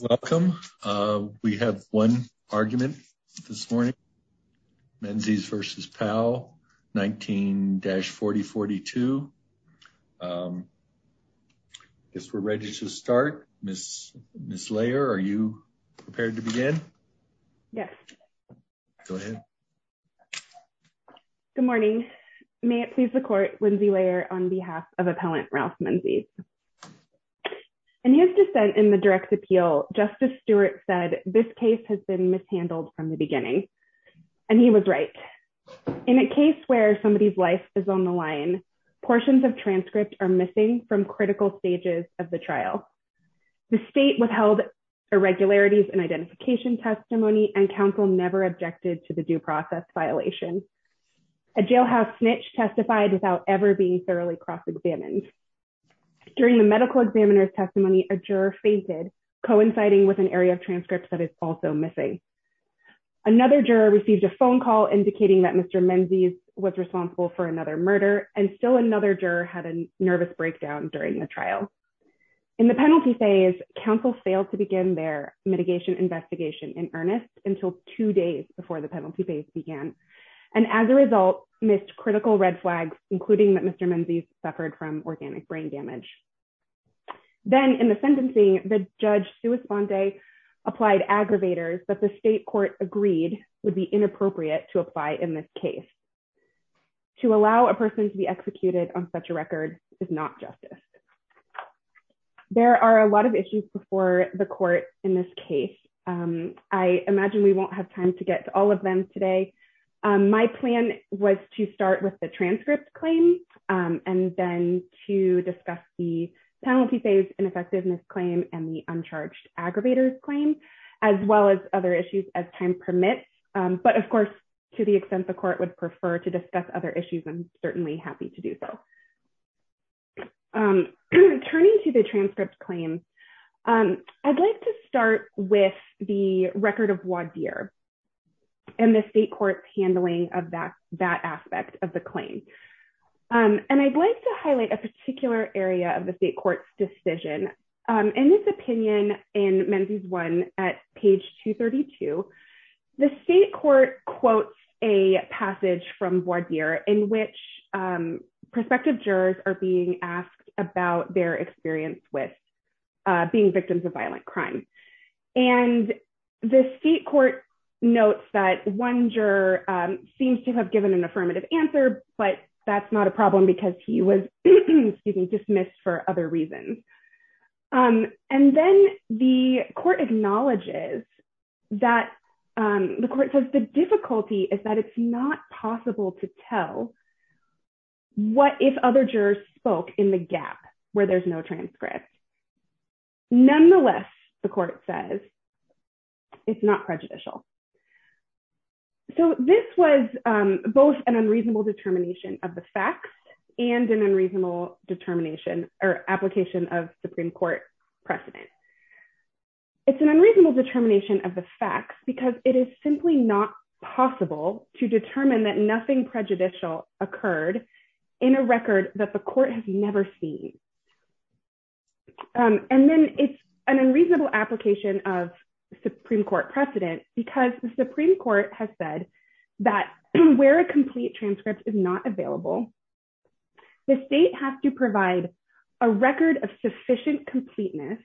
Welcome. We have one argument this morning. Menzies v. Powell, 19-4042. I guess we're ready to start. Ms. Lair, are you prepared to begin? Yes. Go ahead. Good morning. May it please the court, Lindsay Lair on behalf of Appellant Ralph Menzies. In his dissent in the direct appeal, Justice Stewart said, this case has been mishandled from the beginning. And he was right. In a case where somebody's life is on the line, portions of transcript are missing from critical stages of the trial. The state withheld irregularities and identification testimony and counsel never objected to the due process violation. A jailhouse snitch testified without ever being thoroughly cross-examined. During the medical examiner's testimony, a juror fainted, coinciding with an area of transcripts that is also missing. Another juror received a phone call indicating that Mr. Menzies was responsible for another murder. And still another juror had a nervous breakdown during the trial. In the penalty phase, counsel failed to begin their mitigation investigation in earnest until two days before the penalty phase began. And as a result, missed critical red flags, including that Mr. Menzies suffered from organic brain damage. Then in the sentencing, the judge Suis Bande applied aggravators that the state court agreed would be inappropriate to apply in this case. To allow a person to be executed on such a record is not justice. There are a lot of issues before the court in this case. I imagine we won't have time to get to all of them today. My plan was to start with the transcript claim and then to discuss the penalty phase ineffectiveness claim and the uncharged aggravators claim, as well as other issues as time permits. But of course, to the extent the court would prefer to discuss other issues, I'm certainly happy to do so. Turning to the transcript claims, I'd like to start with the record of voir dire and the state court's handling of that aspect of the claim. And I'd like to highlight a particular area of the state court's decision. In this opinion in Menzies I at page 232, the state court quotes a passage from voir dire in which prospective jurors are being asked about their experience with being victims of violent crime. And the state court notes that one juror seems to have given an affirmative answer, but that's not a problem because he was dismissed for other reasons. And then the court acknowledges that the court says the difficulty is that it's not possible to tell what if other jurors spoke in the gap where there's no transcript. Nonetheless, the court says it's not prejudicial. So this was both an unreasonable determination of the facts and an unreasonable determination or application of Supreme Court precedent. It's an unreasonable determination of the facts because it is simply not possible to determine that nothing prejudicial occurred in a record that the court has never seen. And then it's an unreasonable application of Supreme Court precedent because the Supreme Court has said that where a complete transcript is not available, the state has to provide a record of sufficient completeness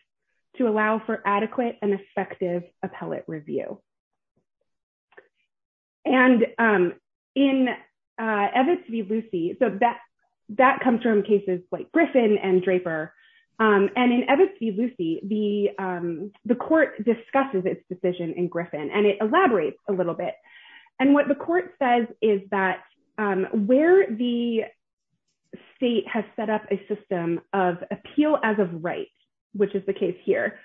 to allow for adequate and effective appellate review. And in Evis v. Lucie, that comes from cases like Griffin and Draper. And in Evis v. Lucie, the court discusses its decision in Griffin and it elaborates a little bit. And what the court says is that where the state has set up a system of appeal as of rights, which is the case here,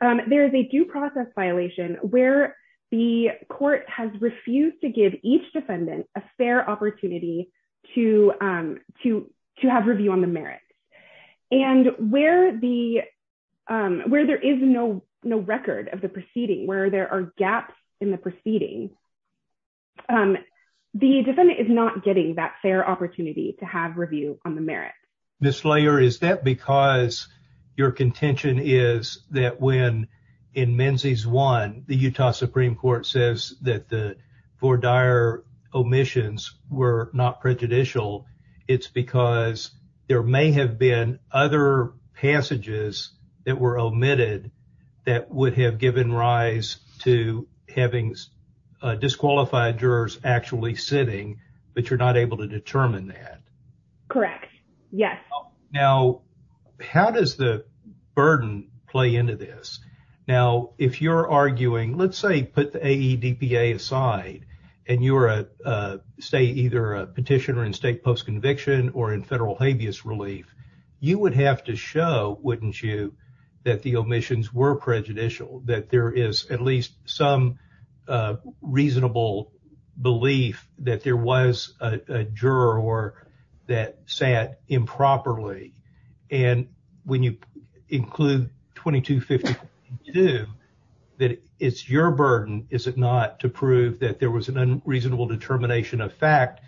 there is a due process violation where the court has refused to give each defendant a fair opportunity to have review on the merits. And where there is no record of proceeding, where there are gaps in the proceeding, the defendant is not getting that fair opportunity to have review on the merits. Ms. Slayer, is that because your contention is that when in Menzies I, the Utah Supreme Court says that the four dire omissions were not prejudicial, it's because there may have been other passages that were omitted that would have given rise to having disqualified jurors actually sitting, but you're not able to determine that? Correct. Yes. Now, how does the burden play into this? Now, if you're arguing, let's say, put the AEDPA aside and you're a, say, either a petitioner in state post-conviction or in federal relief, you would have to show, wouldn't you, that the omissions were prejudicial, that there is at least some reasonable belief that there was a juror that sat improperly. And when you include 2252, that it's your burden, is it not, to prove that there was an unreasonable determination of fact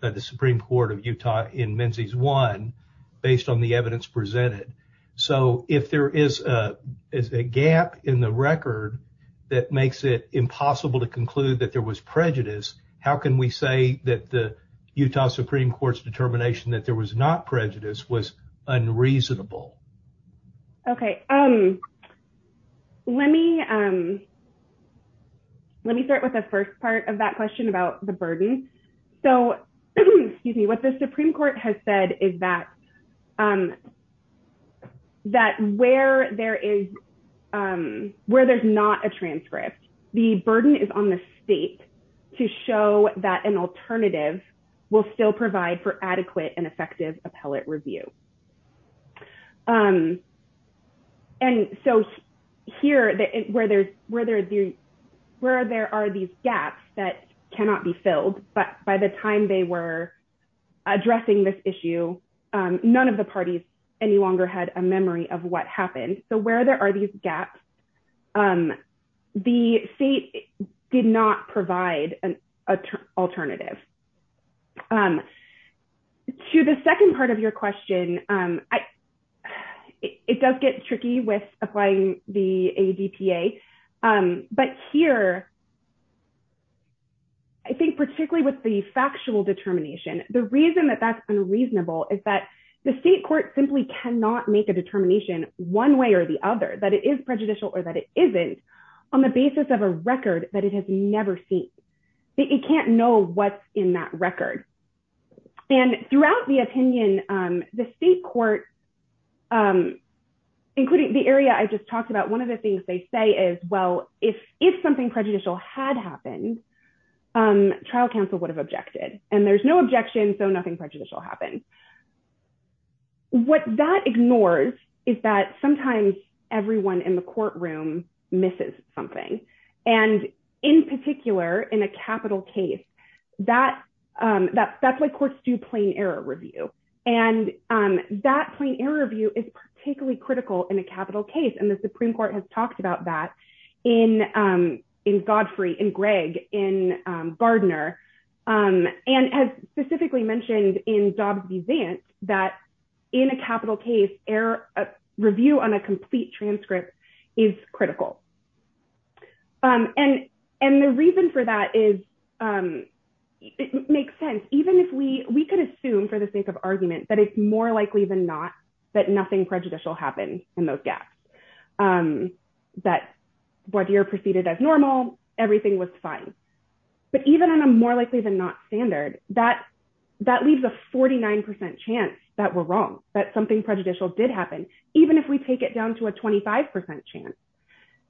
by the Supreme Court of Utah in Menzies I, based on the evidence presented. So, if there is a gap in the record that makes it impossible to conclude that there was prejudice, how can we say that the Utah Supreme Court's determination that there was not prejudice was the burden? So, what the Supreme Court has said is that where there's not a transcript, the burden is on the state to show that an alternative will still provide for adequate and effective appellate review. And so, here, where there are these gaps that cannot be filled, but by the time they were addressing this issue, none of the parties any longer had a memory of happened. So, where there are these gaps, the state did not provide an alternative. To the second part of your question, it does get tricky with applying the ADPA, but here, I think particularly with the factional determination, the reason that that's unreasonable is that the state court simply cannot make a determination one way or the other that it is prejudicial or that it isn't on the basis of a record that it has never seen. It can't know what's in that record. And throughout the opinion, the state court, including the area I just talked about, one of the things they say is, well, if something prejudicial had happened, trial counsel would have objected. And there's no objection, so nothing prejudicial happened. What that ignores is that sometimes everyone in the courtroom misses something. And in particular, in a capital case, that's why courts do plain error review. And that plain error review is particularly critical in a capital case. And the Supreme Court has proven in Jobs v. Vance that in a capital case, review on a complete transcript is critical. And the reason for that is, it makes sense, even if we could assume for the sake of argument that it's more likely than not that nothing prejudicial happened in those gaps, that Baudire proceeded as normal, everything was fine. But even on a more likely than not standard, that leaves a 49% chance that we're wrong, that something prejudicial did happen, even if we take it down to a 25% chance.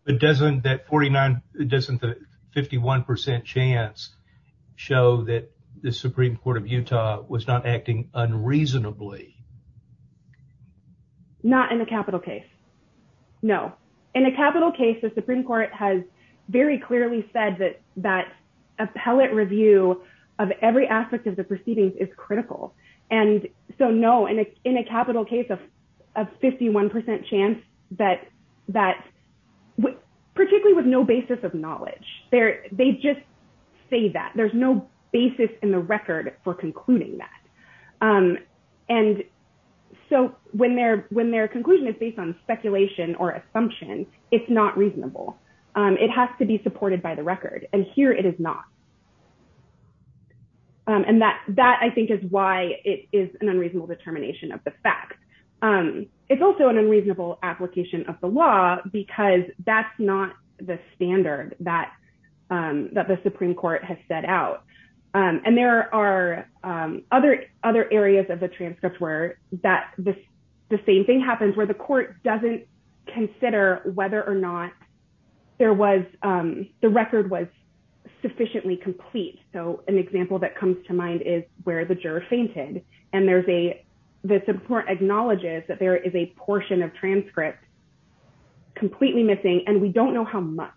But doesn't the 51% chance show that the Supreme Court of Utah was not acting unreasonably? Not in a capital case. No. In a capital case, the Supreme Court has very clearly said that appellate review of every aspect of the proceedings is critical. And so no, in a capital case of 51% chance, particularly with no basis of knowledge, they just say that. There's no basis in the record for concluding that. And so when their conclusion is based on speculation or assumption, it's not reasonable. It has to be supported by the record. And here it is not. And that I think is why it is an unreasonable determination of the fact. It's also an unreasonable application of the law, because that's not the standard that the Supreme Court has set out. And there are other areas of the transcript where the same thing happens, where the court doesn't consider whether or not the record was sufficiently complete. So an example that comes to mind is where the juror fainted. And the Supreme Court acknowledges that there is a portion of transcript completely missing, and we don't know how much.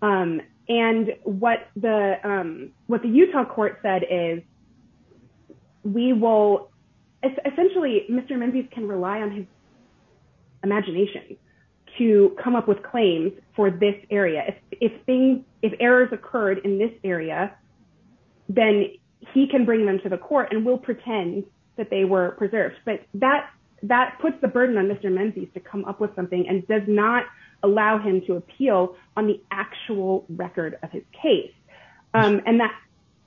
And what the Utah court said is, essentially, Mr. Menzies can rely on his imagination to come up with claims for this area. If errors occurred in this area, then he can bring them to the court and will pretend that they were preserved. But that puts the burden on Mr. Menzies to come up with something and does not allow him to appeal on the actual record of his case. And that...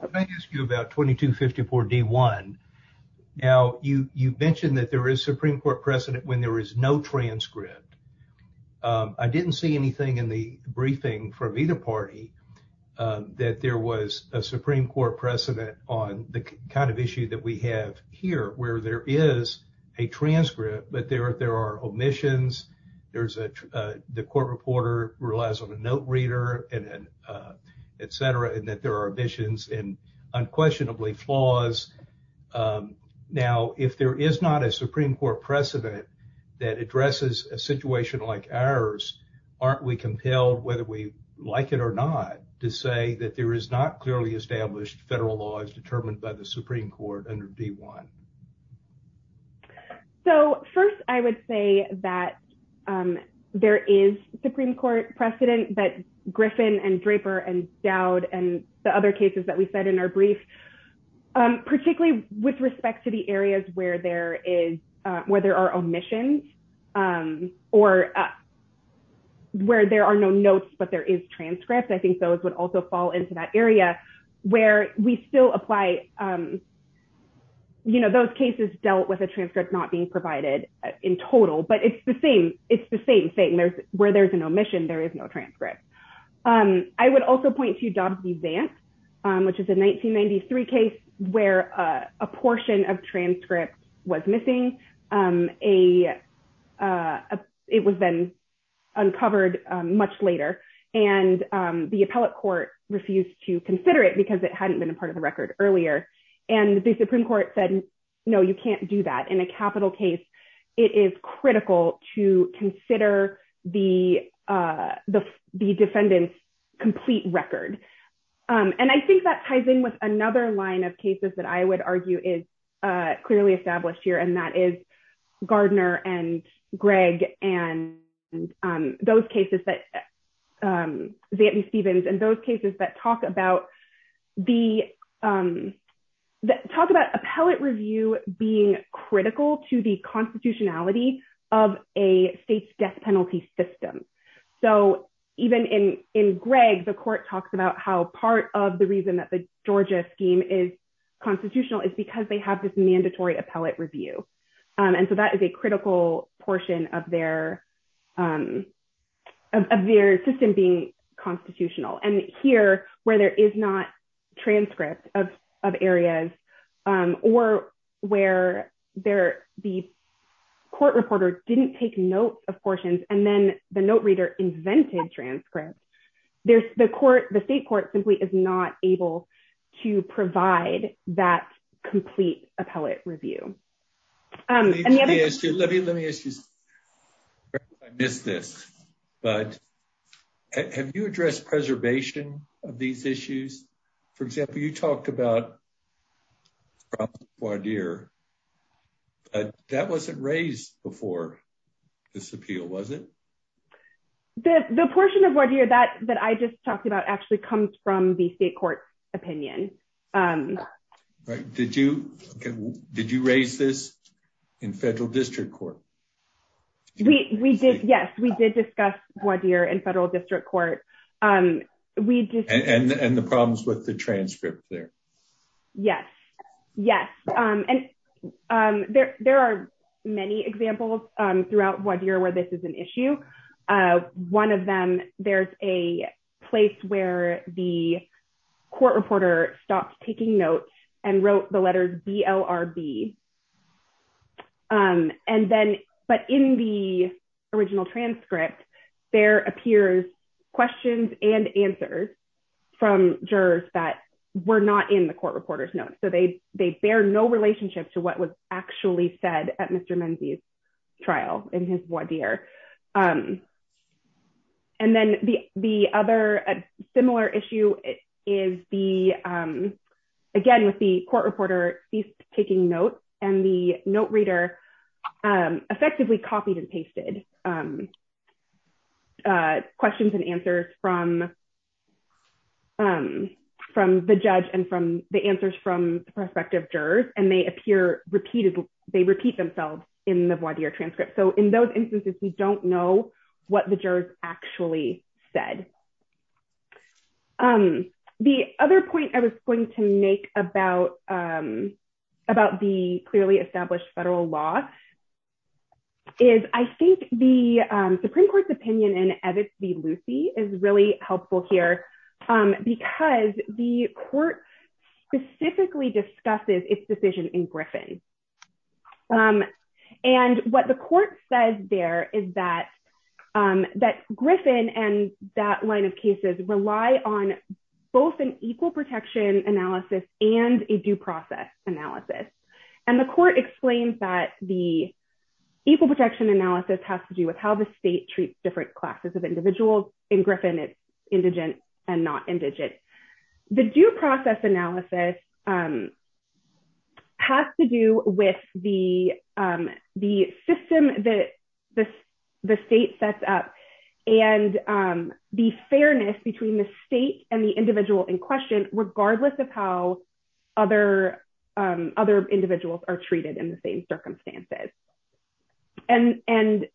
Can I ask you about 2254 D1? Now, you mentioned that there is Supreme Court precedent when there is no transcript. I didn't see anything in the briefing from either party that there was a Supreme Court precedent on the kind of issue that we have here, where there is a transcript, but there are omissions. There's a... The court reporter relies on a note reader and etc., and that there are omissions and unquestionably flaws. Now, if there is not a Supreme Court precedent that addresses a situation like ours, aren't we compelled, whether we like it or not, to say that there is not clearly established federal laws determined by the Supreme Court under D1? So first, I would say that there is Supreme Court precedent that Griffin and Draper and Dowd and the other cases that we said in our brief, particularly with respect to the areas where there are omissions or where there are no notes, but there is transcript. I think those would also fall into that area where we still apply... Those cases dealt with a transcript not being provided in total, but it's the same thing. Where there's an omission, there is no transcript. I would also point to Dobbs v. Vance, which is a 1993 case where a portion of transcript was missing. It was then uncovered much later, and the appellate court refused to consider it because it hadn't been a part of the record earlier, and the Supreme Court said, no, you can't do that. In a capital case, it is critical to consider the defendant's complete record. I think that ties in with another line of cases that I would argue is clearly established here, and that is Gardner and Gregg and those cases that... Vietney-Stevens and those cases that talk about appellate review being critical to the constitutionality of a state's death penalty system. Even in Gregg, the court talks about how part of the reason that the Georgia scheme is constitutional is because they have this mandatory appellate review. That is a critical portion of their system being constitutional. Here, where there is not transcript of areas or where the court reporter didn't take notes of portions, and then the note reader invented transcripts, the state court simply is not able to provide that complete appellate review. Let me ask you this. Have you addressed preservation of these issues? For example, you talked about Robert Guadir, but that wasn't raised before this appeal, was it? The portion of Guadir that I just talked about actually comes from the state court's opinion. Right. Did you raise this in federal district court? Yes, we did discuss Guadir in federal district court. And the problems with the transcript there? Yes. There are many examples throughout Guadir where this is an issue. One of them, there's a place where the court reporter stopped taking notes and wrote the letter DLRB. But in the original transcript, there appears questions and answers from jurors that were not in the court reporter's notes. They bear no relationship to what was actually said at Mr. Menzies' trial in his Guadir. And then the other similar issue is the, again, with the court reporter ceased taking notes and the note reader effectively copied and pasted questions and answers from the judge and from the answers from the prospective jurors, and they appear repeated. They repeat themselves in the Guadir transcript. So in those instances, we don't know what the jurors actually said. The other point I was going to make about the clearly established federal law is I think the Supreme Court's opinion in Edith v. Lucy is really helpful here because the court specifically discusses its decision in Griffin. And what the court says there is that Griffin and that line of cases rely on both an equal protection analysis and a due process analysis. And the court explains that the equal protection analysis has to do with how the state sets up and the fairness between the state and the individual in question, regardless of how other individuals are treated in the same circumstances. And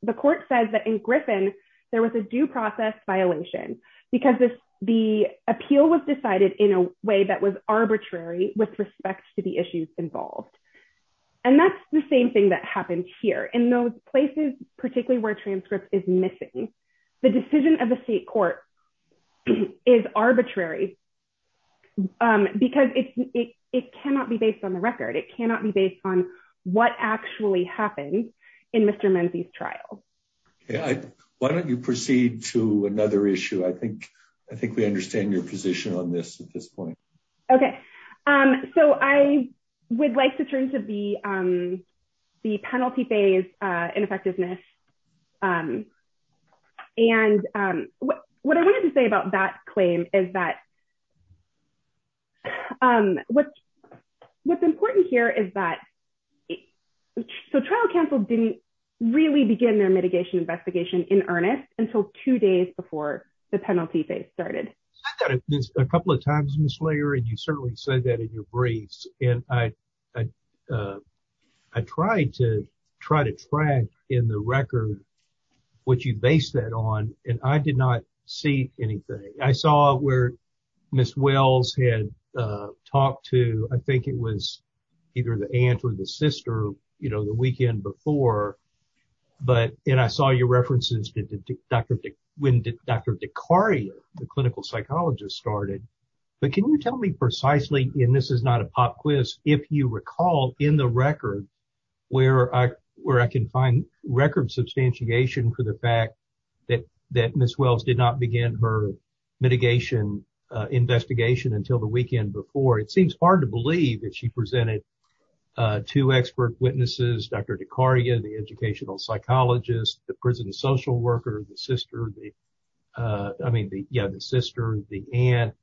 the court says that in Griffin, there was a due process violation because the appeal was decided in a way that was arbitrarily with respect to the issues involved. And that's the same thing that happens here. In those places, particularly where transcript is missing, the decision of the state court is arbitrary because it cannot be based on the record. It cannot be based on what actually happened in Mr. Menzi's trial. Why don't you proceed to another issue? I think we understand your point. Okay. So I would like to turn to the penalty phase ineffectiveness. And what I wanted to say about that claim is that what's important here is that the trial counsel didn't really begin their mitigation investigation in earnest until two days before the penalty phase started. A couple of times, Ms. Slater, and you certainly said that in your briefs. And I tried to track in the record what you based that on, and I did not see anything. I saw where Ms. Wells had talked to, I think it was either the aunt or the sister, you know, the weekend before. But, and I saw your references to when Dr. DeCaria, the clinical psychologist, started. But can you tell me precisely, and this is not a pop quiz, if you recall in the record where I can find record substantiation for the fact that Ms. Wells did not begin her mitigation investigation until the weekend before. It seems hard to believe that she presented two expert witnesses, Dr. DeCaria, the educational psychologist, the prison social worker, the sister, I mean, yeah, the sister, the aunt.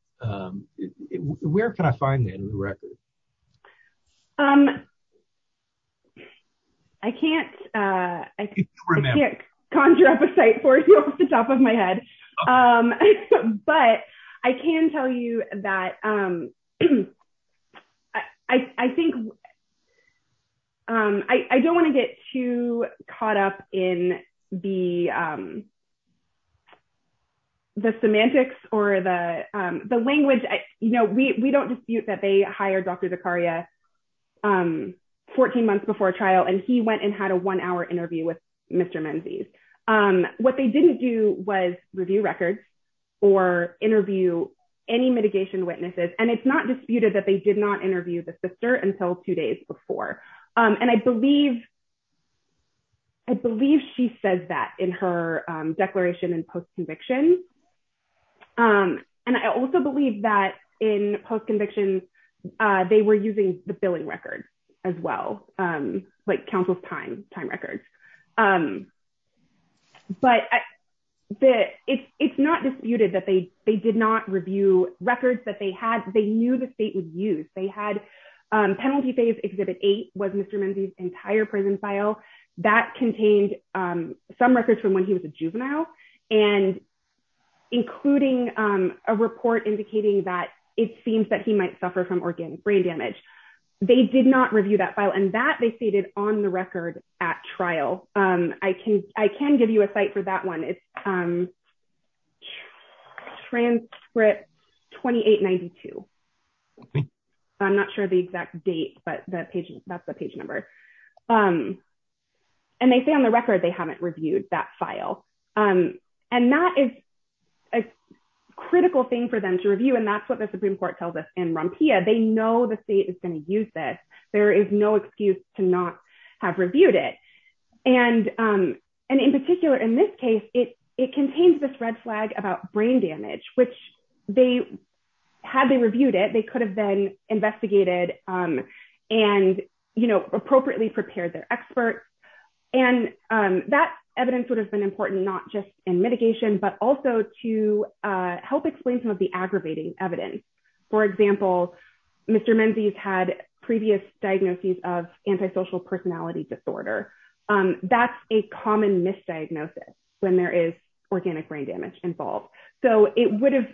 Where can I find that in the record? I can't conjure up a cite for you off the top of my head. But I can tell you that I think, I don't want to get too caught up in the semantics or the language. You know, we don't dispute that they hired Dr. DeCaria 14 months before trial, and he went and had a one-hour interview with Mr. Menzies. What they didn't do was review records or interview any that they did not interview the sister until two days before. And I believe she says that in her declaration in post-conviction. And I also believe that in post-conviction, they were using the billing records as well, like counsel's time records. But it's not disputed that they did not review records that they had. They knew the state would use. They had Penalty Phase Exhibit 8 was Mr. Menzies' entire prison file that contained some records from when he was a juvenile, and including a report indicating that it seems that he might suffer from organ brain damage. They did not review that file, and that they stated on the record at trial. I can give you a site for that one. It's transcript 2892. I'm not sure the exact date, but that's the page number. And they say on the record they haven't reviewed that file. And that is a critical thing for them to review, and that's what the Supreme Court is going to use this. There is no excuse to not have reviewed it. And in particular, in this case, it contains this red flag about brain damage, which had they reviewed it, they could have been investigated and appropriately prepared their experts. And that evidence would have been important not just in mitigation, but also to help explain some aggravating evidence. For example, Mr. Menzies had previous diagnoses of antisocial personality disorder. That's a common misdiagnosis when there is organic brain damage involved. So, it would have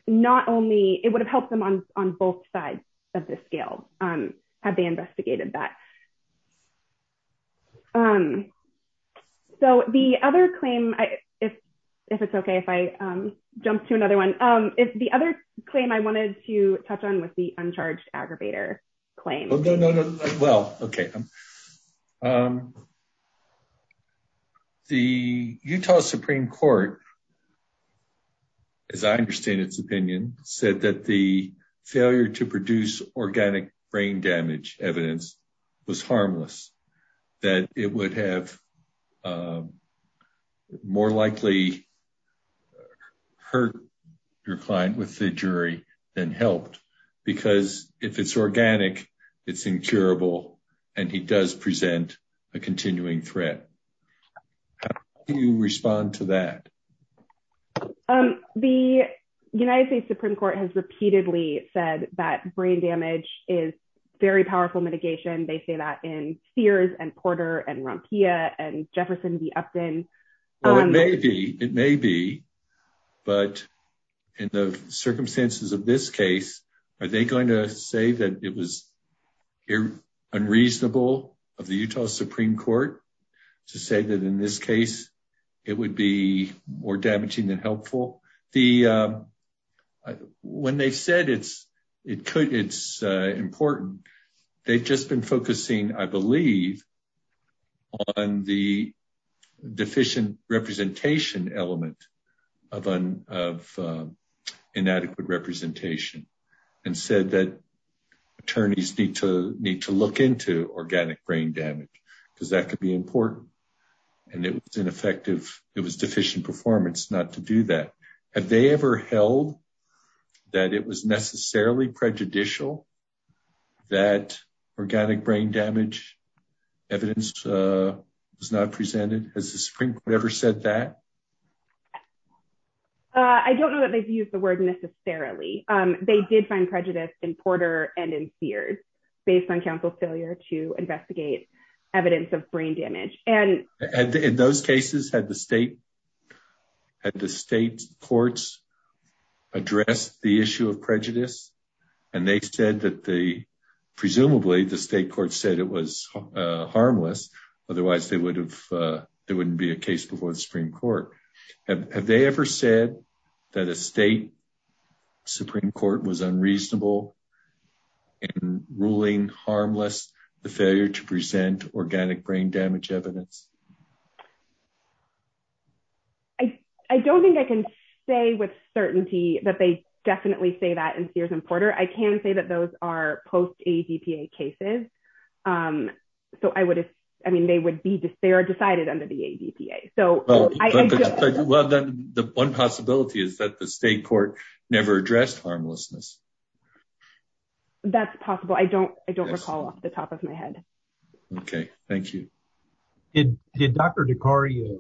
helped them on both sides of the scale had they investigated that. So, the other claim, if it's okay if I jump to another one. The other claim I wanted to touch on was the uncharged aggravator claim. No, no, no. Well, okay. The Utah Supreme Court, as I understand its opinion, said that the failure to produce organic brain damage evidence was harmless. That it would have more likely hurt your client with the injury than helped. Because if it's organic, it's incurable, and it does present a continuing threat. How do you respond to that? The United States Supreme Court has repeatedly said that brain damage is very powerful mitigation. They say that in Sears and Porter and Rompilla and Jefferson v. Upton. Well, it may be. It may be. But in the circumstances of this case, are they going to say that it was unreasonable of the Utah Supreme Court to say that in this case, it would be more damaging than helpful? When they said it's important, they've just been focusing, I believe, on the deficient representation element of inadequate representation. And said that attorneys need to look into organic brain damage, because that could be important. And it was deficient performance not to do that. Have they ever held that it was necessarily prejudicial that organic brain damage evidence was not presented? Has the Supreme Court ever said that? I don't know that they've used the word necessarily. They did find prejudice in Porter and in Sears, based on counsel's failure to investigate evidence of brain damage. In those cases, had the state courts addressed the issue of prejudice? And they said that they, presumably, the state court said it was harmless. Otherwise, there wouldn't be a case before the Supreme Court. Have they ever said that a state Supreme Court was unreasonable in ruling harmless the failure to present organic brain damage evidence? I don't think I can say with certainty that they definitely say that in Sears and Porter. I can say that those are post-ADPA cases. So, I mean, they are decided under the ADPA. Well, then the one possibility is that the state court never addressed harmlessness. That's possible. I don't recall off the top of my head. Okay. Thank you. Did Dr. DeCario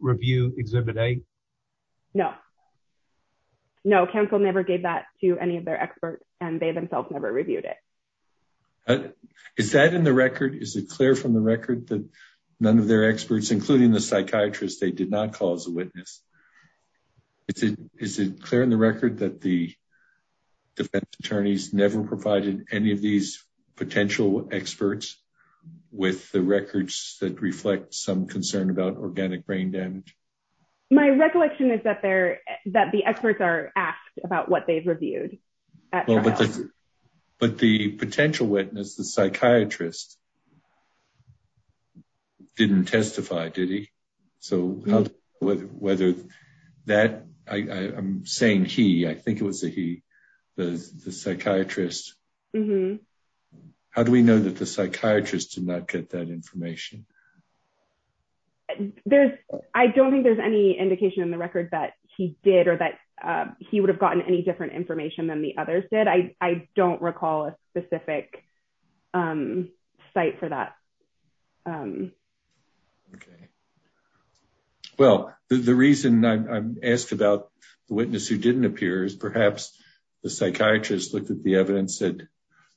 review Exhibit A? No. No, counsel never gave that to any of their experts, and they themselves never reviewed it. Is that in the record? Is it clear from the record that none of their experts, including the psychiatrist, they did not call as a witness? Is it clear in the record that the attorneys never provided any of these potential experts with the records that reflect some concern about organic brain damage? My recollection is that the experts are asked about what they've reviewed. But the potential witness, the psychiatrist, didn't testify, did he? I'm saying he. I think it was a he, the psychiatrist. How do we know that the psychiatrist did not get that information? I don't think there's any indication in the record that he did or that he would have gotten any different information than the others did. I don't recall a specific site for that. Okay. Well, the reason I'm asked about the witness who didn't appear is perhaps the psychiatrist looked at the evidence that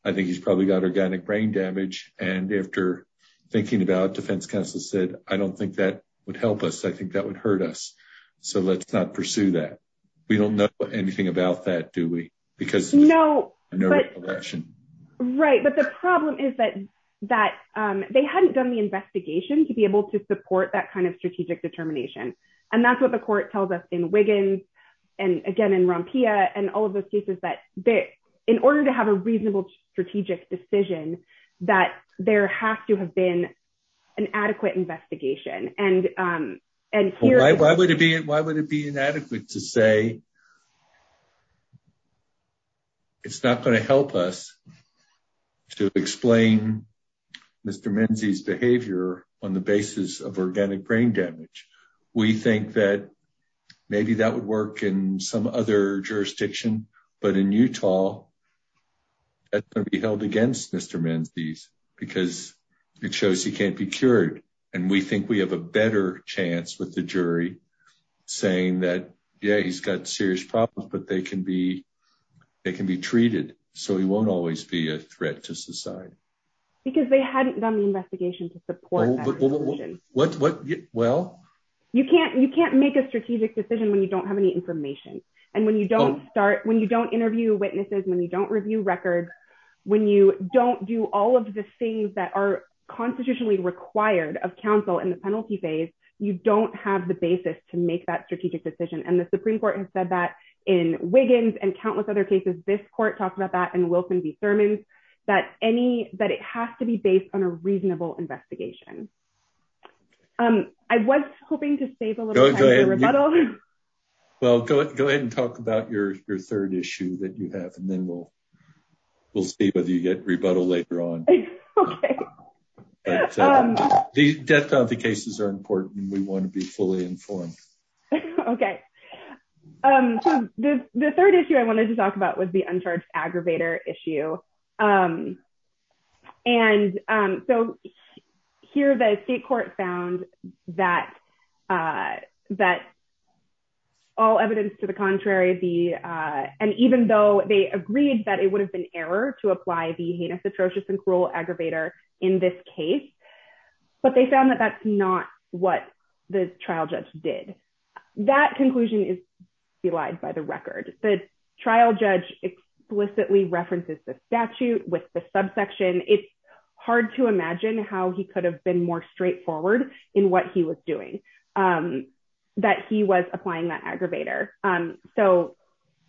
I think he's probably got organic brain damage, and after thinking about it, defense counsel said, I don't think that would help us. I think that would hurt us. So let's not pursue that. We don't know anything about that, do we? Right. But the problem is that they hadn't done the investigation to be able to support that kind of strategic determination. And that's what the court tells us in Wiggins, and again, in Rompia, and all of those cases that in order to have a reasonable strategic decision, that there has to have been an adequate investigation. Why would it be inadequate to say it's not going to help us to explain Mr. Menzies' behavior on the basis of organic brain damage? We think that maybe that would work in some other jurisdiction, but in Utah, that's going to be held against Mr. Menzies, because it shows he can't be cured. And we think we have a better chance with the jury saying that, yeah, he's got serious problems, but they can be treated, so he won't always be a threat to society. Because they hadn't done the investigation to support that. Well? You can't make a strategic decision when you don't have any information. And when you don't start, when you don't interview witnesses, when you don't review records, when you don't do all of the things that are constitutionally required of counsel in the penalty phase, you don't have the basis to make that strategic decision. And the Supreme Court has said that in Wiggins and countless other cases. This court talked about that in Wilson v. Thurman, that any, that it has to be based on a reasonable investigation. I was hoping to save a little time for rebuttal. Well, go ahead and talk about your third issue that you have, and then we'll see whether you get rebuttal later on. The death of the cases are important. We want to be fully informed. Okay. So the third issue I wanted to talk about was the uncharged aggravator issue. And so here the state court found that all evidence to the contrary, the, and even though they agreed that it would have been error to apply the heinous, atrocious, and cruel aggravator in this case, but they found that that's not what the trial judge did. That conclusion is by the record. The trial judge explicitly references the statute with the subsection. It's hard to imagine how he could have been more straightforward in what he was doing, that he was applying that aggravator. So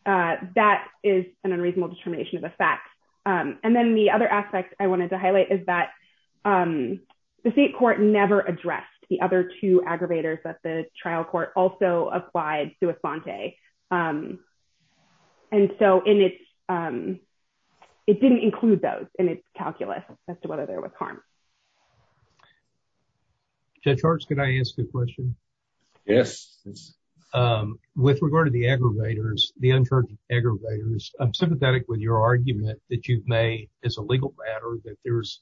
that is an unreasonable determination of the fact. And then the other aspect I wanted to highlight is that the state court never addressed the other aggravators that the trial court also applied to Asante. And so it didn't include those in its calculus as to whether there was harm. Judge Harts, can I ask a question? Yes. With regard to the aggravators, the uncharged aggravators, I'm sympathetic with your argument that you've made as a legal matter that there's,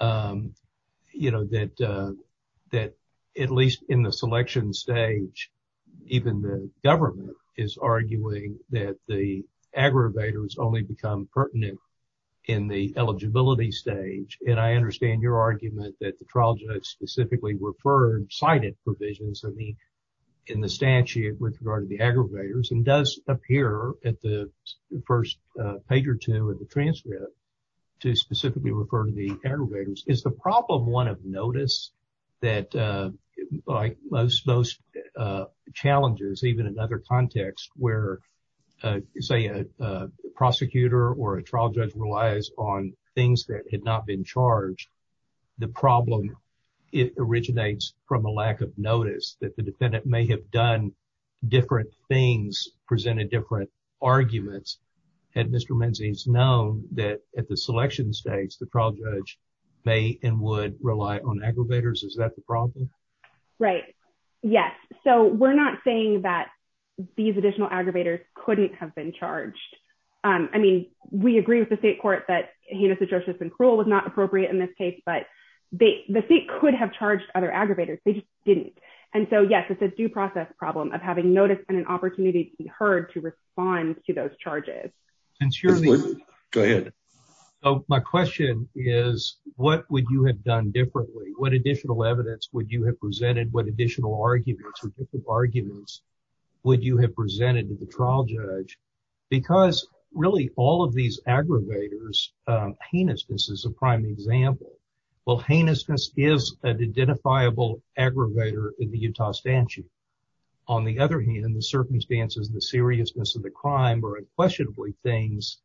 you know, that at least in the selection stage, even the government is arguing that the aggravators only become pertinent in the eligibility stage. And I understand your argument that the trial judge specifically referred cited provisions in the statute with regard to the specifically referred to the aggravators. Is the problem one of notice that, like most challenges, even in other contexts where, say, a prosecutor or a trial judge relies on things that had not been charged, the problem, it originates from a lack of notice that the defendant may have done the selection stage, the trial judge may and would rely on aggravators. Is that the problem? Right. Yes. So we're not saying that these additional aggravators couldn't have been charged. I mean, we agree with the state court that heinous atrocious and cruel was not appropriate in this case, but the state could have charged other aggravators. They just didn't. And so, yes, it's a due process problem of having notice and an opportunity to be heard to respond to those My question is, what would you have done differently? What additional evidence would you have presented? What additional arguments or different arguments would you have presented to the trial judge? Because really all of these aggravators, heinousness is a prime example. Well, heinousness is an identifiable aggravator in the Utah statute. On the other hand, in the circumstances, the seriousness of the crime are unquestionably things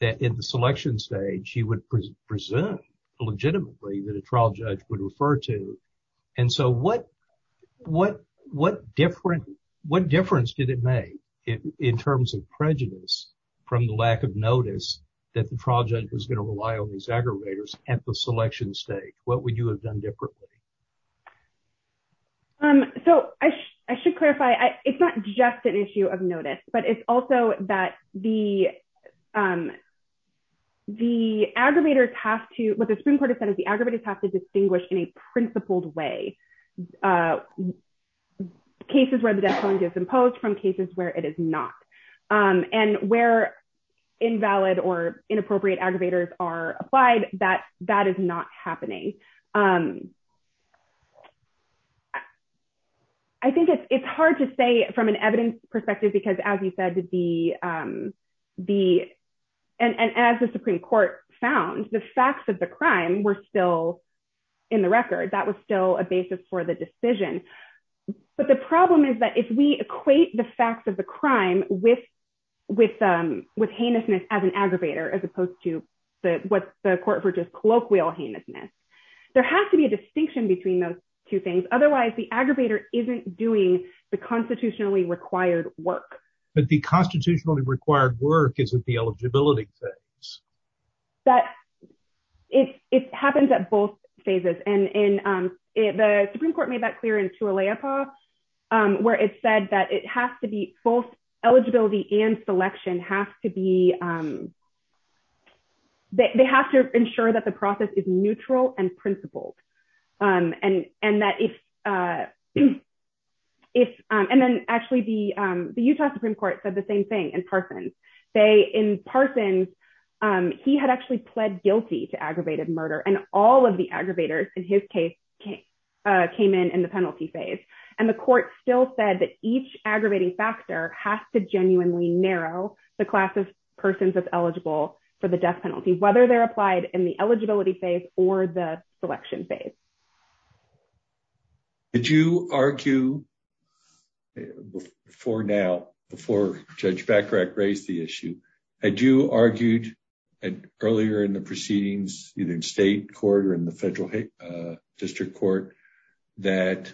that in the selection stage he would present legitimately that a trial judge would refer to. And so, what difference did it make in terms of prejudice from the lack of notice that the trial judge was going to rely on these aggravators at the selection stage? What would you have done differently? So I should clarify, it's not just an issue of notice, but it's also that the aggravators have to, what the Supreme Court has said is the aggravators have to distinguish in a principled way cases where the death penalty is imposed from cases where it is not. And where invalid or inappropriate aggravators are applied, that is not happening. I think it's hard to say from an evidence perspective, because as you said, and as the Supreme Court found, the facts of the crime were still in the record. That was still a basis for the decision. But the problem is that if we equate the facts of the crime with heinousness as an aggravator, as opposed to what the court referred to as colloquial heinousness, there has to be a distinction between those two things. Otherwise, the aggravator isn't doing the constitutionally required work. But the constitutionally required work isn't the eligibility phase. But it happens at both phases. And the Supreme Court made that clear in Tula-Leopold, where it said that it has to be both eligibility and selection has to be, they have to ensure that the process is neutral and principled. And that if, and then actually the Utah Supreme Court said the same thing in Parsons. They, in Parsons, he had actually pled guilty to aggravated murder. And all of the aggravators in his case came in in the penalty phase. And the court still said that each aggravating factor has to genuinely narrow the class of persons that's eligible for the death penalty, whether they're applied in the eligibility phase or the selection phase. Did you argue for now, before Judge Bachrach raised the issue, had you argued earlier in the proceedings, either in state court or in federal district court, that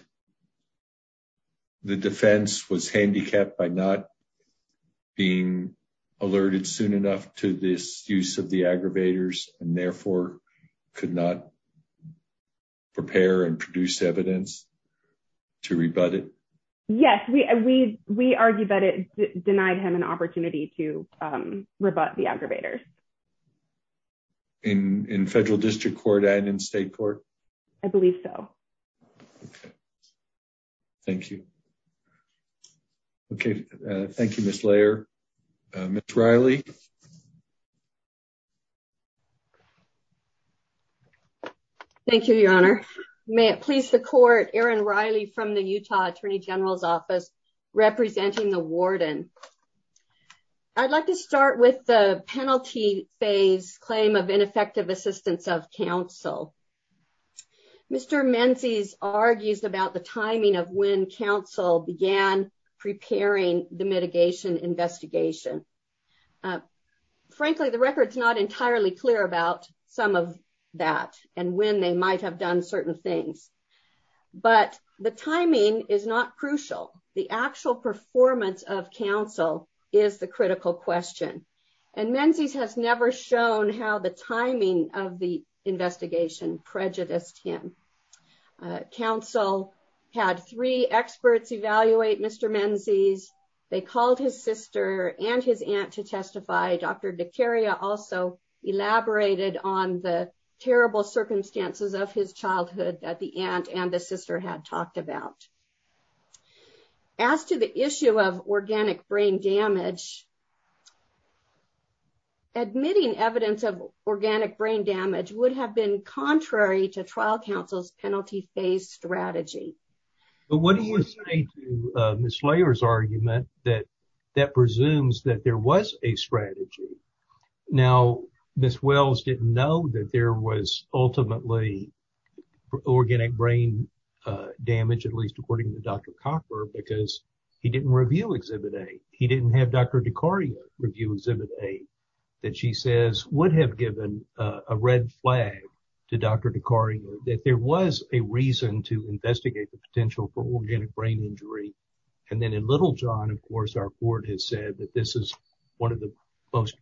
the defense was handicapped by not being alerted soon enough to this use of the aggravators and therefore could not prepare and produce evidence to rebut it? Yes, we argued that it denied him an opportunity to rebut the aggravators. In federal district court and in state court? I believe so. Okay. Thank you. Okay. Thank you, Ms. Layer. Ms. Riley? Thank you, Your Honor. May it please the court, Aaron Riley from the Utah Attorney General's Division. I'd like to start with the penalty phase claim of ineffective assistance of counsel. Mr. Menzies argues about the timing of when counsel began preparing the mitigation investigation. Frankly, the record's not entirely clear about some of that and when they might have done certain things. But the timing is not crucial. The actual performance of counsel is the critical question. Menzies has never shown how the timing of the investigation prejudiced him. Counsel had three experts evaluate Mr. Menzies. They called his sister and his aunt to testify. Dr. DeCaria also elaborated on the terrible circumstances of his childhood at the end and the sister had talked about. As to the issue of organic brain damage, admitting evidence of organic brain damage would have been contrary to trial counsel's strategy. But what do you say to Ms. Layer's argument that that presumes that there was a strategy? Now, Ms. Wells didn't know that there was ultimately organic brain damage, at least according to Dr. Copper, because he didn't review Exhibit A. He didn't have Dr. DeCaria review Exhibit A that she says would have given a red flag to Dr. DeCaria that there was a reason to investigate the potential for organic brain injury. And then in Littlejohn, of course, our court has said that this is one of the most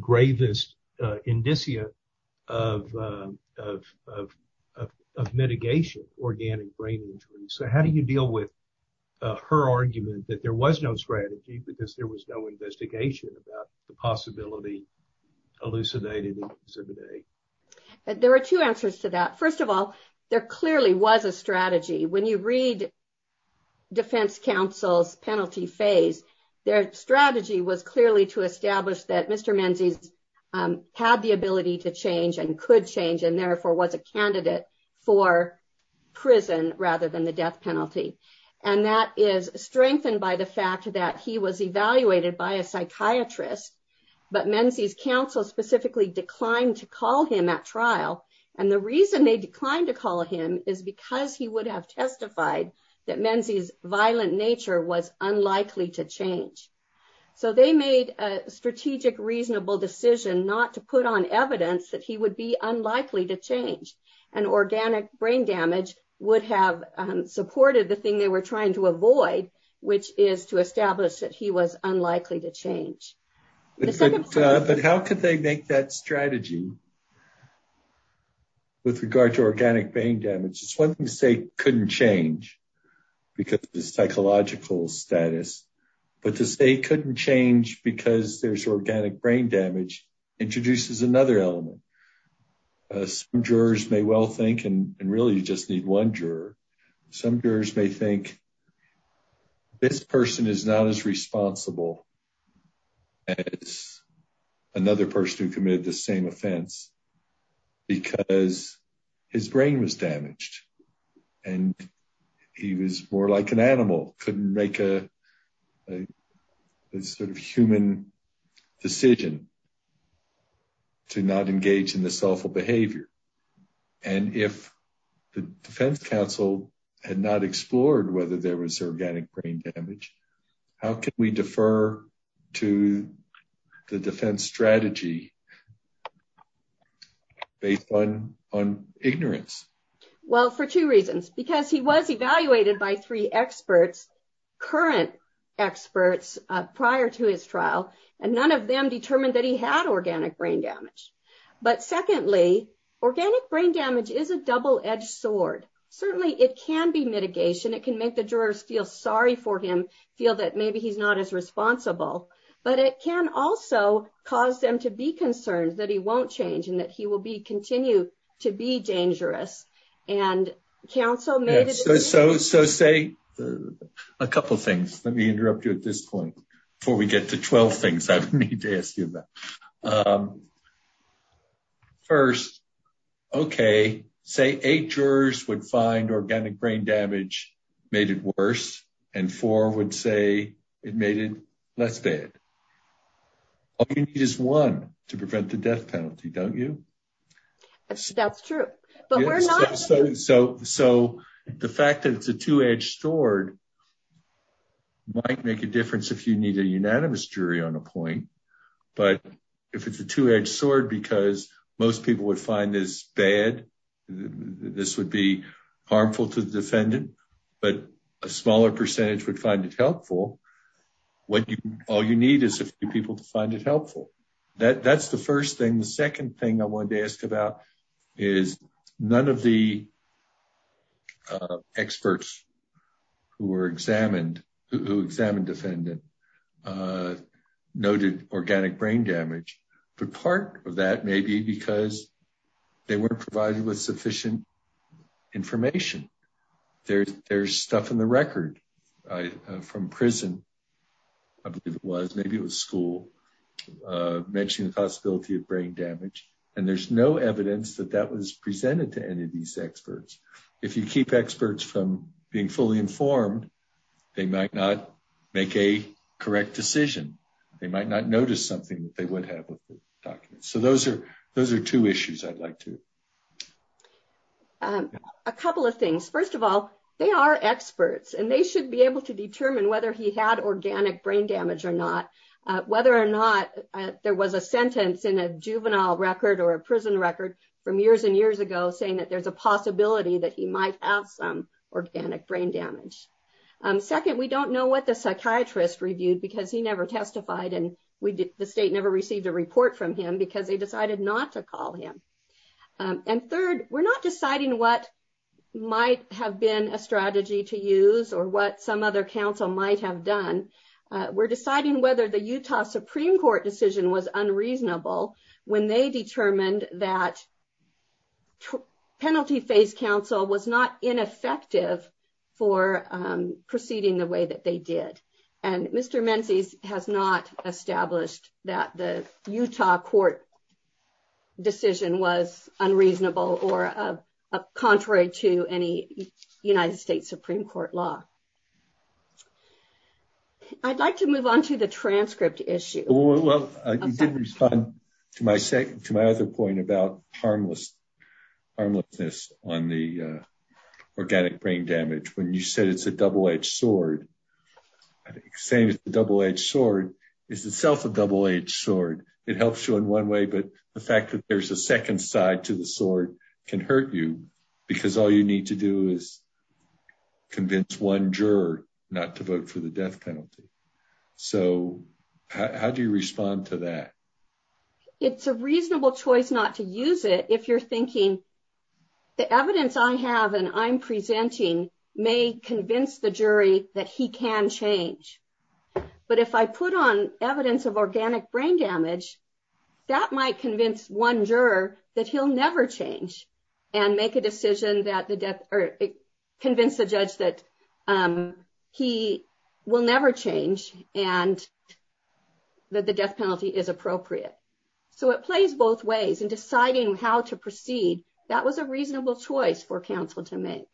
gravest indicia of mitigation organic brain injury. So how do you deal with her argument that there was no strategy because there was no investigation about the possibility elucidated in Exhibit A? There were two answers to that. First of all, there clearly was a strategy. When you read defense counsel's penalty phase, their strategy was clearly to establish that Mr. Menzies had the ability to change and could change and therefore was a candidate for prison rather than the death penalty. And that is strengthened by the fact that he was evaluated by a psychiatrist, but Menzies counsel specifically declined to call him at trial. And the reason they declined to call him is because he would have testified that Menzies' violent nature was unlikely to change. So they made a strategic, reasonable decision not to put on evidence that he would be unlikely to change. And organic brain damage would have supported the thing they were trying to avoid, which is to establish that he was unlikely to change. But how could they make that strategy with regard to organic brain damage? It's one thing to say couldn't change because of the psychological status, but to say couldn't change because there's organic brain damage introduces another element. Some jurors may well think, and really you just need one juror, some jurors may think this person is not as responsible as another person who committed the same offense because his brain was damaged and he was more like an animal, couldn't make a sort of human decision to not engage in this awful behavior. And if the defense counsel had not explored whether there was organic brain damage, how can we defer to the defense strategy based on ignorance? Well, for two reasons. Because he was evaluated by three experts, current experts prior to his trial, and none of them determined that he had organic brain damage. But secondly, organic brain damage is a double-edged sword. Certainly it can be mitigation, it can make the jurors feel sorry for him, feel that maybe he's not as responsible, but it can also cause them to be concerned that he won't change and that he will be continued to be dangerous. And counsel may... So say a couple of things, let me interrupt you at this point before we get to 12 things I need to ask you about. First, okay, say eight jurors would find all you need is one to prevent the death penalty, don't you? That's true, but we're not... So the fact that it's a two-edged sword might make a difference if you need a unanimous jury on a point. But if it's a two-edged sword, because most people would find this bad, this would be harmful to the defendant, but a smaller percentage would find it helpful. All you need is a few people to find it helpful. That's the first thing. The second thing I wanted to ask about is none of the experts who examined the defendant noted organic brain damage. The part of that may be because they weren't provided with sufficient information. There's stuff in the record from prison, I believe it was, maybe it was school, mentioning the possibility of brain damage. And there's no evidence that that was presented to any of these experts. If you keep experts from being fully informed, they might not make a correct decision. They might not notice something that they would document. So those are two issues I'd like to... A couple of things. First of all, they are experts and they should be able to determine whether he had organic brain damage or not, whether or not there was a sentence in a juvenile record or a prison record from years and years ago saying that there's a possibility that he might have some organic brain damage. Second, we don't know what the psychiatrist reviewed because he never received a report from him because they decided not to call him. And third, we're not deciding what might have been a strategy to use or what some other counsel might have done. We're deciding whether the Utah Supreme Court decision was unreasonable when they determined that penalty phase counsel was not ineffective for proceeding the way that they did. And Mr. established that the Utah court decision was unreasonable or contrary to any United States Supreme Court law. I'd like to move on to the transcript issue. Well, you didn't respond to my other point about harmlessness on the organic brain damage when you said it's a double-edged sword. Saying it's a double-edged sword is itself a double-edged sword. It helps you in one way, but the fact that there's a second side to the sword can hurt you because all you need to do is convince one juror not to vote for the death penalty. So how do you respond to that? It's a reasonable choice not to use it if you're thinking the evidence I have and I'm presenting may convince the jury that he can change. But if I put on evidence of organic brain damage, that might convince one juror that he'll never change and make a decision that the death or convince the judge that he will never change and that the death penalty is appropriate. So it plays both ways in deciding how to proceed. That was a reasonable choice for counsel to make.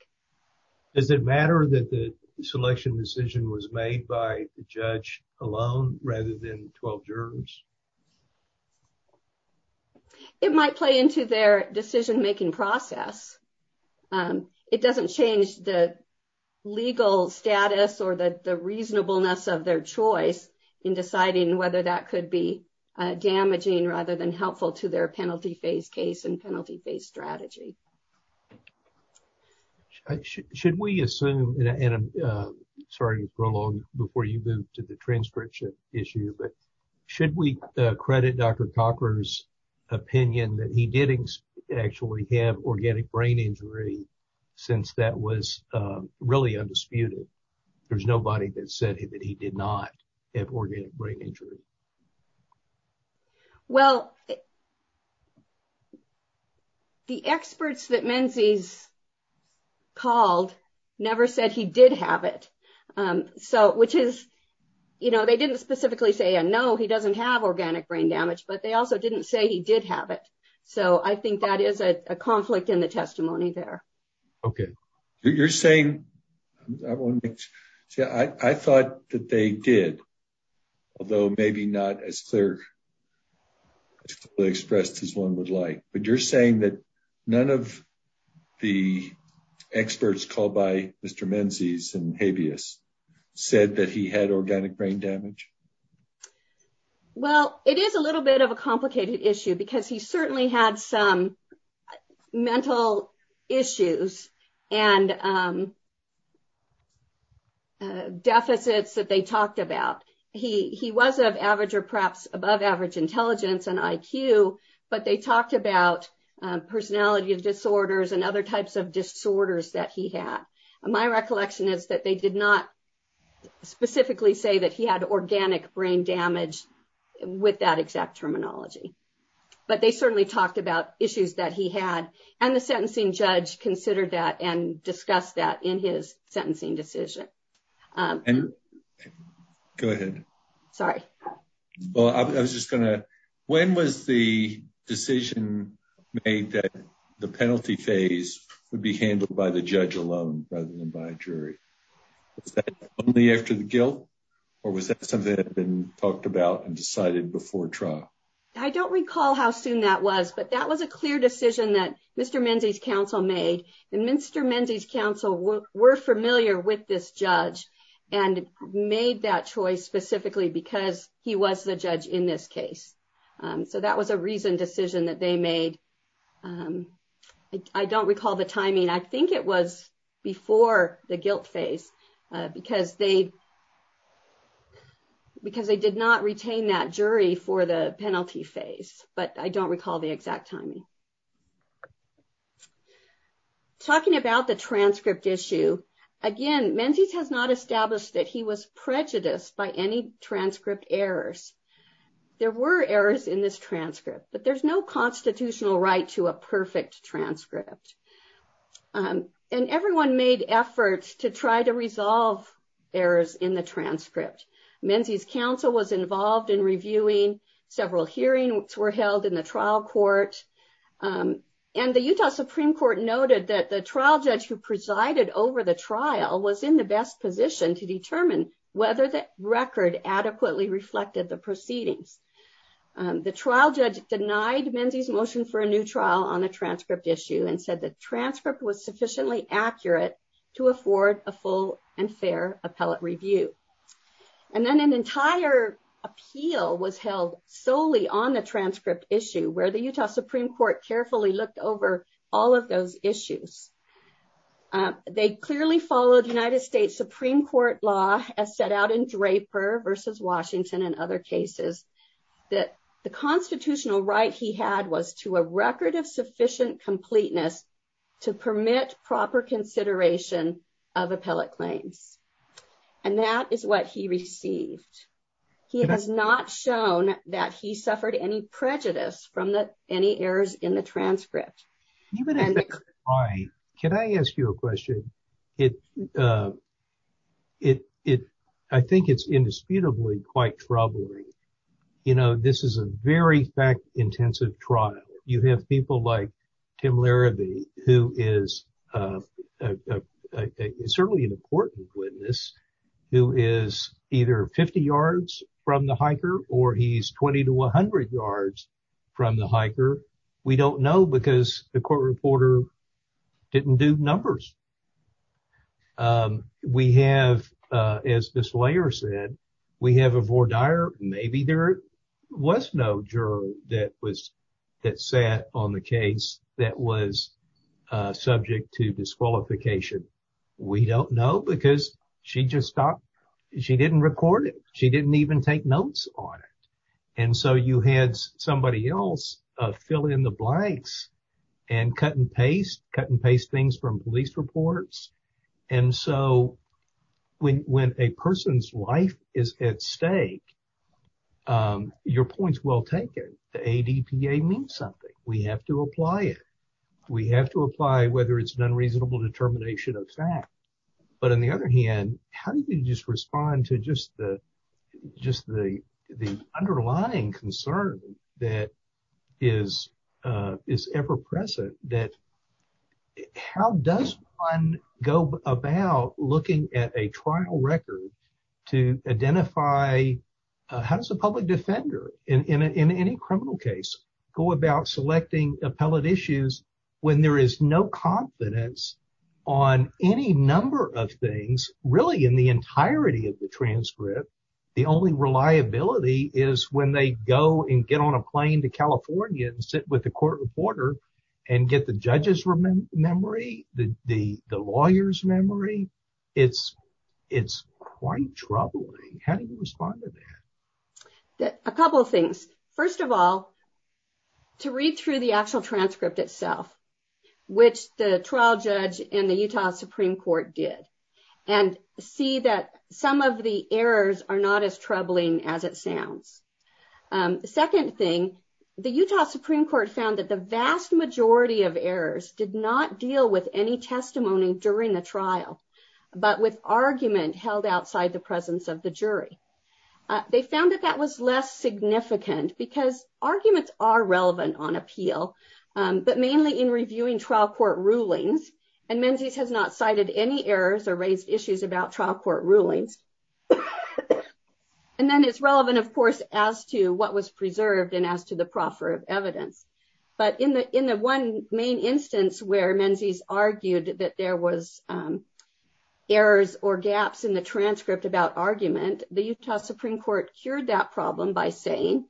Does it matter that the selection decision was made by the judge alone rather than 12 jurors? It might play into their decision-making process. It doesn't change the legal status or the reasonableness of their choice in deciding whether that could be damaging rather than damaging. Should we assume, and I'm sorry to prolong before you move to the transcription issue, but should we credit Dr. Topper's opinion that he didn't actually have organic brain injury since that was really undisputed? There's nobody that said that he did not have organic brain injury. They didn't specifically say, no, he doesn't have organic brain damage, but they also didn't say he did have it. So I think that is a conflict in the testimony there. Okay. You're saying, I thought that they did, although maybe not as clearly expressed as one would like, but you're saying that none of the experts called by Mr. Menzies and Habeas said that he had organic brain damage? Well, it is a little bit of a complicated issue because he certainly had some mental issues and but they talked about personality disorders and other types of disorders that he had. My recollection is that they did not specifically say that he had organic brain damage with that exact terminology, but they certainly talked about issues that he had and the sentencing judge considered that and discussed that in his sentencing decision. And go ahead. Sorry. Well, I was just going to, when was the decision made that the penalty phase would be handled by the judge alone rather than by a jury? Was that only after the guilt or was that something that had been talked about and decided before trial? I don't recall how soon that was, but that was a clear decision that Mr. Menzies' counsel made. And Mr. Menzies' counsel were familiar with this judge and made that choice specifically because he was the judge in this case. So that was a reason decision that they made. I don't recall the timing. I think it was before the guilt phase because they did not retain that jury for the penalty phase, but I don't recall the exact timing. Talking about the transcript issue, again, Menzies has not established that he was prejudiced by any transcript errors. There were errors in this transcript, but there's no constitutional right to a perfect transcript. And everyone made efforts to try to resolve errors in the transcript. Menzies' counsel was involved in reviewing, several hearings were held in the trial court, and the Utah Supreme Court noted that the trial judge who presided over the trial was in the best position to determine whether the record adequately reflected the proceedings. The trial judge denied Menzies' motion for a new trial on the transcript issue and said the transcript was sufficiently accurate to afford a full and fair appellate review. And then an entire appeal was held solely on the transcript issue where the Utah Supreme Court carefully looked over all of those issues. They clearly followed United States Supreme Court law as set out in Draper versus Washington and other cases that the constitutional right he had was to a record of sufficient completeness to permit proper consideration of appellate claims. And that is what he received. He has not shown that he suffered any prejudice from any errors in the transcript. Can I ask you a question? I think it's indisputably quite troubling. You know, this is a very fact-intensive trial. You have people like Kim Larrabee, who is certainly an important witness, who is either 50 yards from the hiker or he's 20 to 100 yards from the hiker. We don't know because the court reporter didn't do numbers. We have, as this lawyer said, we have a voir dire. Maybe there was no juror that sat on the case that was subject to disqualification. We don't know because she just stopped. She didn't record it. She didn't even take notes on it. And so you had somebody else fill in the blanks and cut and paste, cut and paste things from police reports. And so when a person's life is at stake, your point is well taken. The ADPA means something. We have to apply it. We have to apply whether it's an unreasonable determination of fact. But on the other hand, how do you just respond to just the underlying concern that is ever-present that how does one go about looking at a trial record to identify how does a public defender in any criminal case go about selecting appellate issues when there is no confidence on any number of things really in the entirety of the transcript? The only reliability is when they go and get on a plane to California and sit with the court reporter and get the judge's memory, the lawyer's memory. It's quite troubling. How do you respond to that? A couple of things. First of all, to read through the actual transcript itself, which the trial judge in the Utah Supreme Court did, and see that some of the errors are not as significant. The second thing, the Utah Supreme Court found that the vast majority of errors did not deal with any testimony during the trial, but with argument held outside the presence of the jury. They found that that was less significant because arguments are relevant on appeal, but mainly in reviewing trial court rulings. And then it has not cited any errors or raised about trial court rulings. And then it's relevant, of course, as to what was preserved and as to the proffer of evidence. But in the one main instance where Menzies argued that there was errors or gaps in the transcript about argument, the Utah Supreme Court cured that problem by saying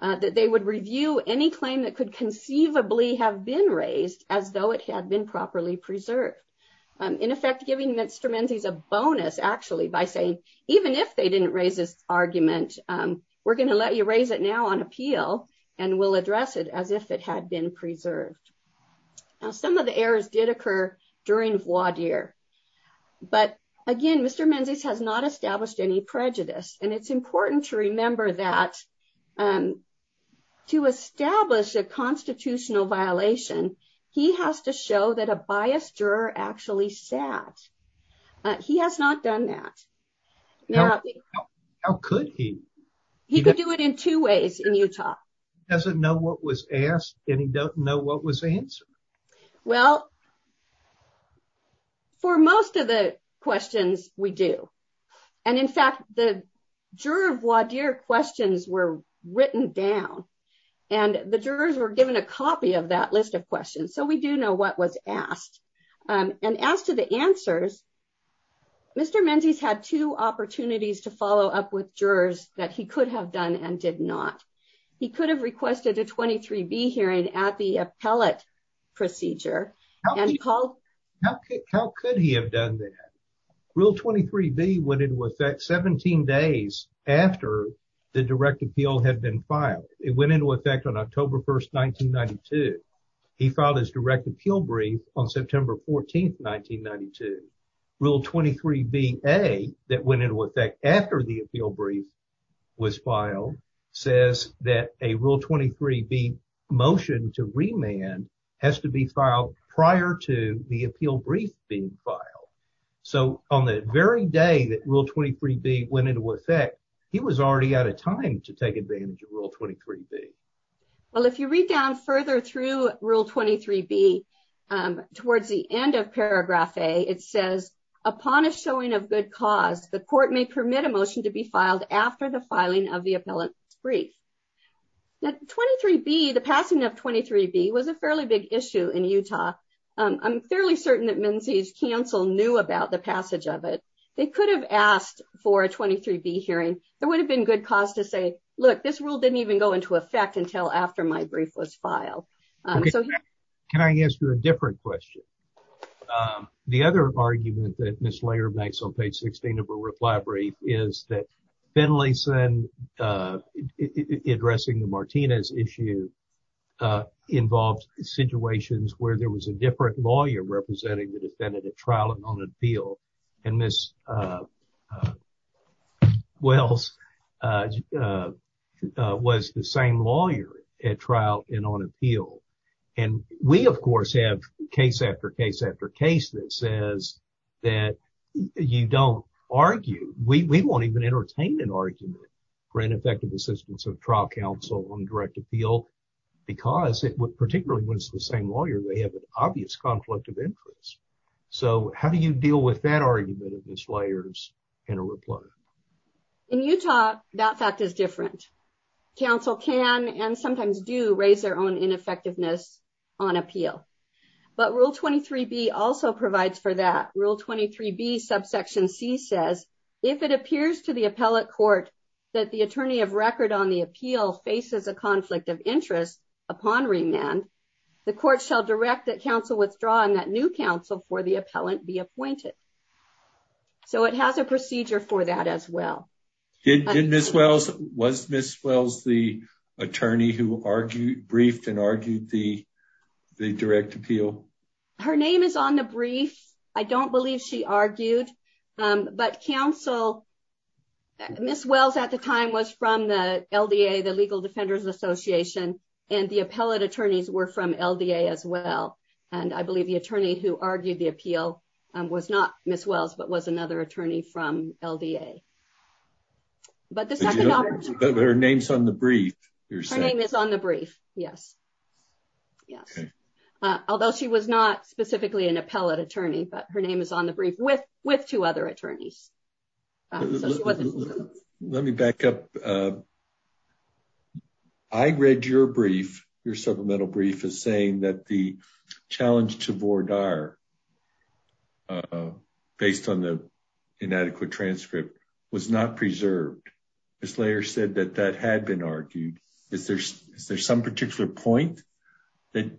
that they would review any claim that could conceivably have been raised as though it had been properly preserved. In effect, giving Mr. Menzies a bonus, actually, by saying, even if they didn't raise this argument, we're going to let you raise it now on appeal, and we'll address it as if it had been preserved. Now, some of the errors did occur during voir dire. But again, Mr. Menzies has not established any prejudice. And it's important to establish a constitutional violation, he has to show that a biased juror actually sat. He has not done that. How could he? He could do it in two ways in Utah. He doesn't know what was asked, and he doesn't know what was answered. Well, for most of the questions, we do. And in fact, the juror voir dire questions were written down. And the jurors were given a copy of that list of questions. So we do know what was asked. And as to the answers, Mr. Menzies had two opportunities to follow up with jurors that he could have done and did not. He could have requested a 23B hearing at the appellate procedure. How could he have done that? Rule 23B went into effect 17 days after the direct appeal had been filed. It went into effect on October 1st, 1992. He filed his direct appeal brief on September 14th, 1992. Rule 23B-A that went into effect after the appeal brief was filed says that a Rule 23B motion to remand has to be filed prior to the appeal brief being filed. So on the very day that Rule 23B went into effect, he was already out of time to take advantage of Rule 23B. Well, if you read down further through Rule 23B towards the end of paragraph A, it says, upon a showing of good cause, the court may permit a motion to be filed after the filing of the appellate brief. Now, 23B, the passing of 23B was a fairly big issue in Utah. I'm fairly certain that Menzies counsel knew about the passage of it. They could have asked for a 23B hearing. There would have been good cause to say, look, this rule didn't even go into effect until after my brief was filed. Can I ask you a different question? The other argument that Ms. Laird makes on page 16 of her reply brief is that Finlayson addressing the Martinez issue involves situations where there was a different lawyer representing the defendant at trial and on appeal. And Ms. Wells was the same lawyer at trial and on appeal. And we, of course, have case after case after case that says that you don't argue. We won't even entertain an argument for ineffective assistance of trial counsel on direct appeal because, particularly when it's the same lawyer, they have an obvious conflict of interest. So how do you deal with that argument, Ms. Laird's reply? In Utah, that fact is different. Counsel can and sometimes do raise their own ineffectiveness on appeal. But Rule 23B also provides for that. Rule 23B, subsection C says, if it appears to the appellate court that the attorney of record on the appeal faces a conflict of interest upon remand, the court shall direct that counsel withdraw and that new counsel for appellant be appointed. So it has a procedure for that as well. Did Ms. Wells, was Ms. Wells the attorney who briefed and argued the direct appeal? Her name is on the brief. I don't believe she argued. But counsel, Ms. Wells at the time was from the LDA, the Legal Defenders Association, and the appellate attorneys were from LDA as well. And I believe the attorney who argued the appeal was not Ms. Wells, but was another attorney from LDA. But her name's on the brief. Her name is on the brief, yes. Although she was not specifically an appellate attorney, but her name is on the brief with two other attorneys. Let me back up. I read your brief, your supplemental brief, is saying that the challenge to Vore Dyer based on the inadequate transcript was not preserved. Ms. Layer said that that had been argued. Is there some particular point that,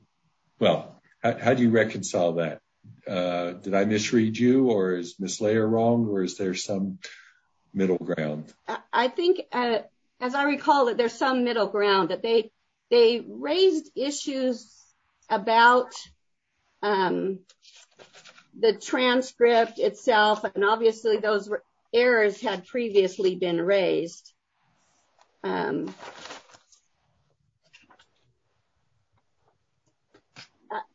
well, how do you reconcile that? Did I misread you, or is Ms. Layer wrong, or is there some middle ground? I think, as I recall, that there's some middle ground, that they raised issues about the transcript itself, and obviously those errors had previously been raised.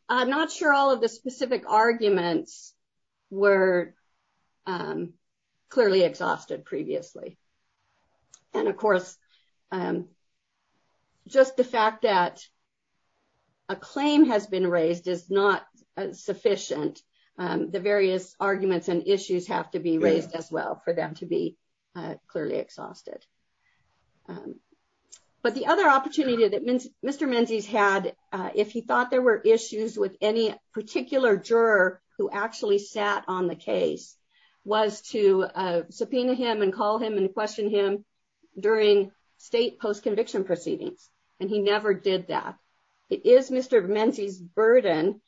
I'm not sure all of the specific arguments were clearly exhausted previously. And of course, just the fact that a claim has been raised is not sufficient. The various arguments and issues have to be raised as well for them to be clearly exhausted. But the other opportunity that Mr. Mendez had, if he thought there were issues with any particular juror who actually sat on the case, was to subpoena him and call him and question him during state post-conviction proceedings, and he never did that. It is Mr. Mendez's burden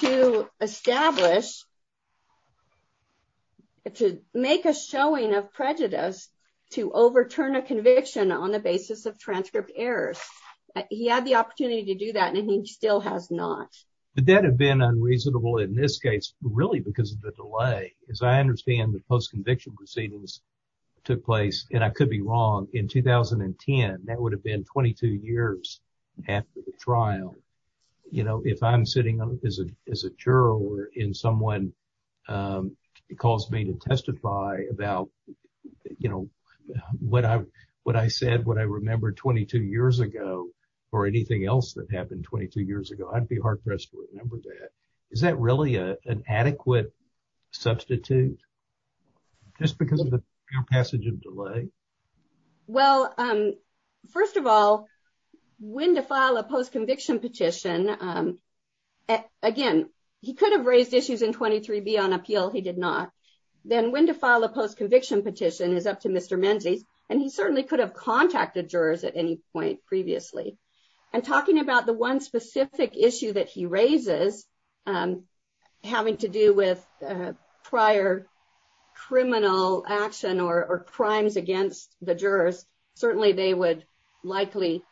to establish, to make a showing of prejudice, to overturn a conviction on the basis of transcript errors. He had the opportunity to do that, and he still has not. But that had been unreasonable in this case, really, because of the delay. As I understand, the post-conviction proceedings took place, and I could be wrong, in 2010. That would have been 22 years after the trial. If I'm sitting as a juror and someone calls me to testify about what I said, what I remembered 22 years ago, or anything else that happened 22 years ago, I'd be hard-pressed to remember that. Is that really an adequate substitute, just because of the passage of delay? Well, first of all, when to file a post-conviction petition, again, he could have raised issues in 23B on appeal. He did not. Then when to file a conviction petition is up to Mr. Mendez, and he certainly could have contacted jurors at any point previously. Talking about the one specific issue that he raises, having to do with prior criminal action or crimes against the jurors, certainly they would likely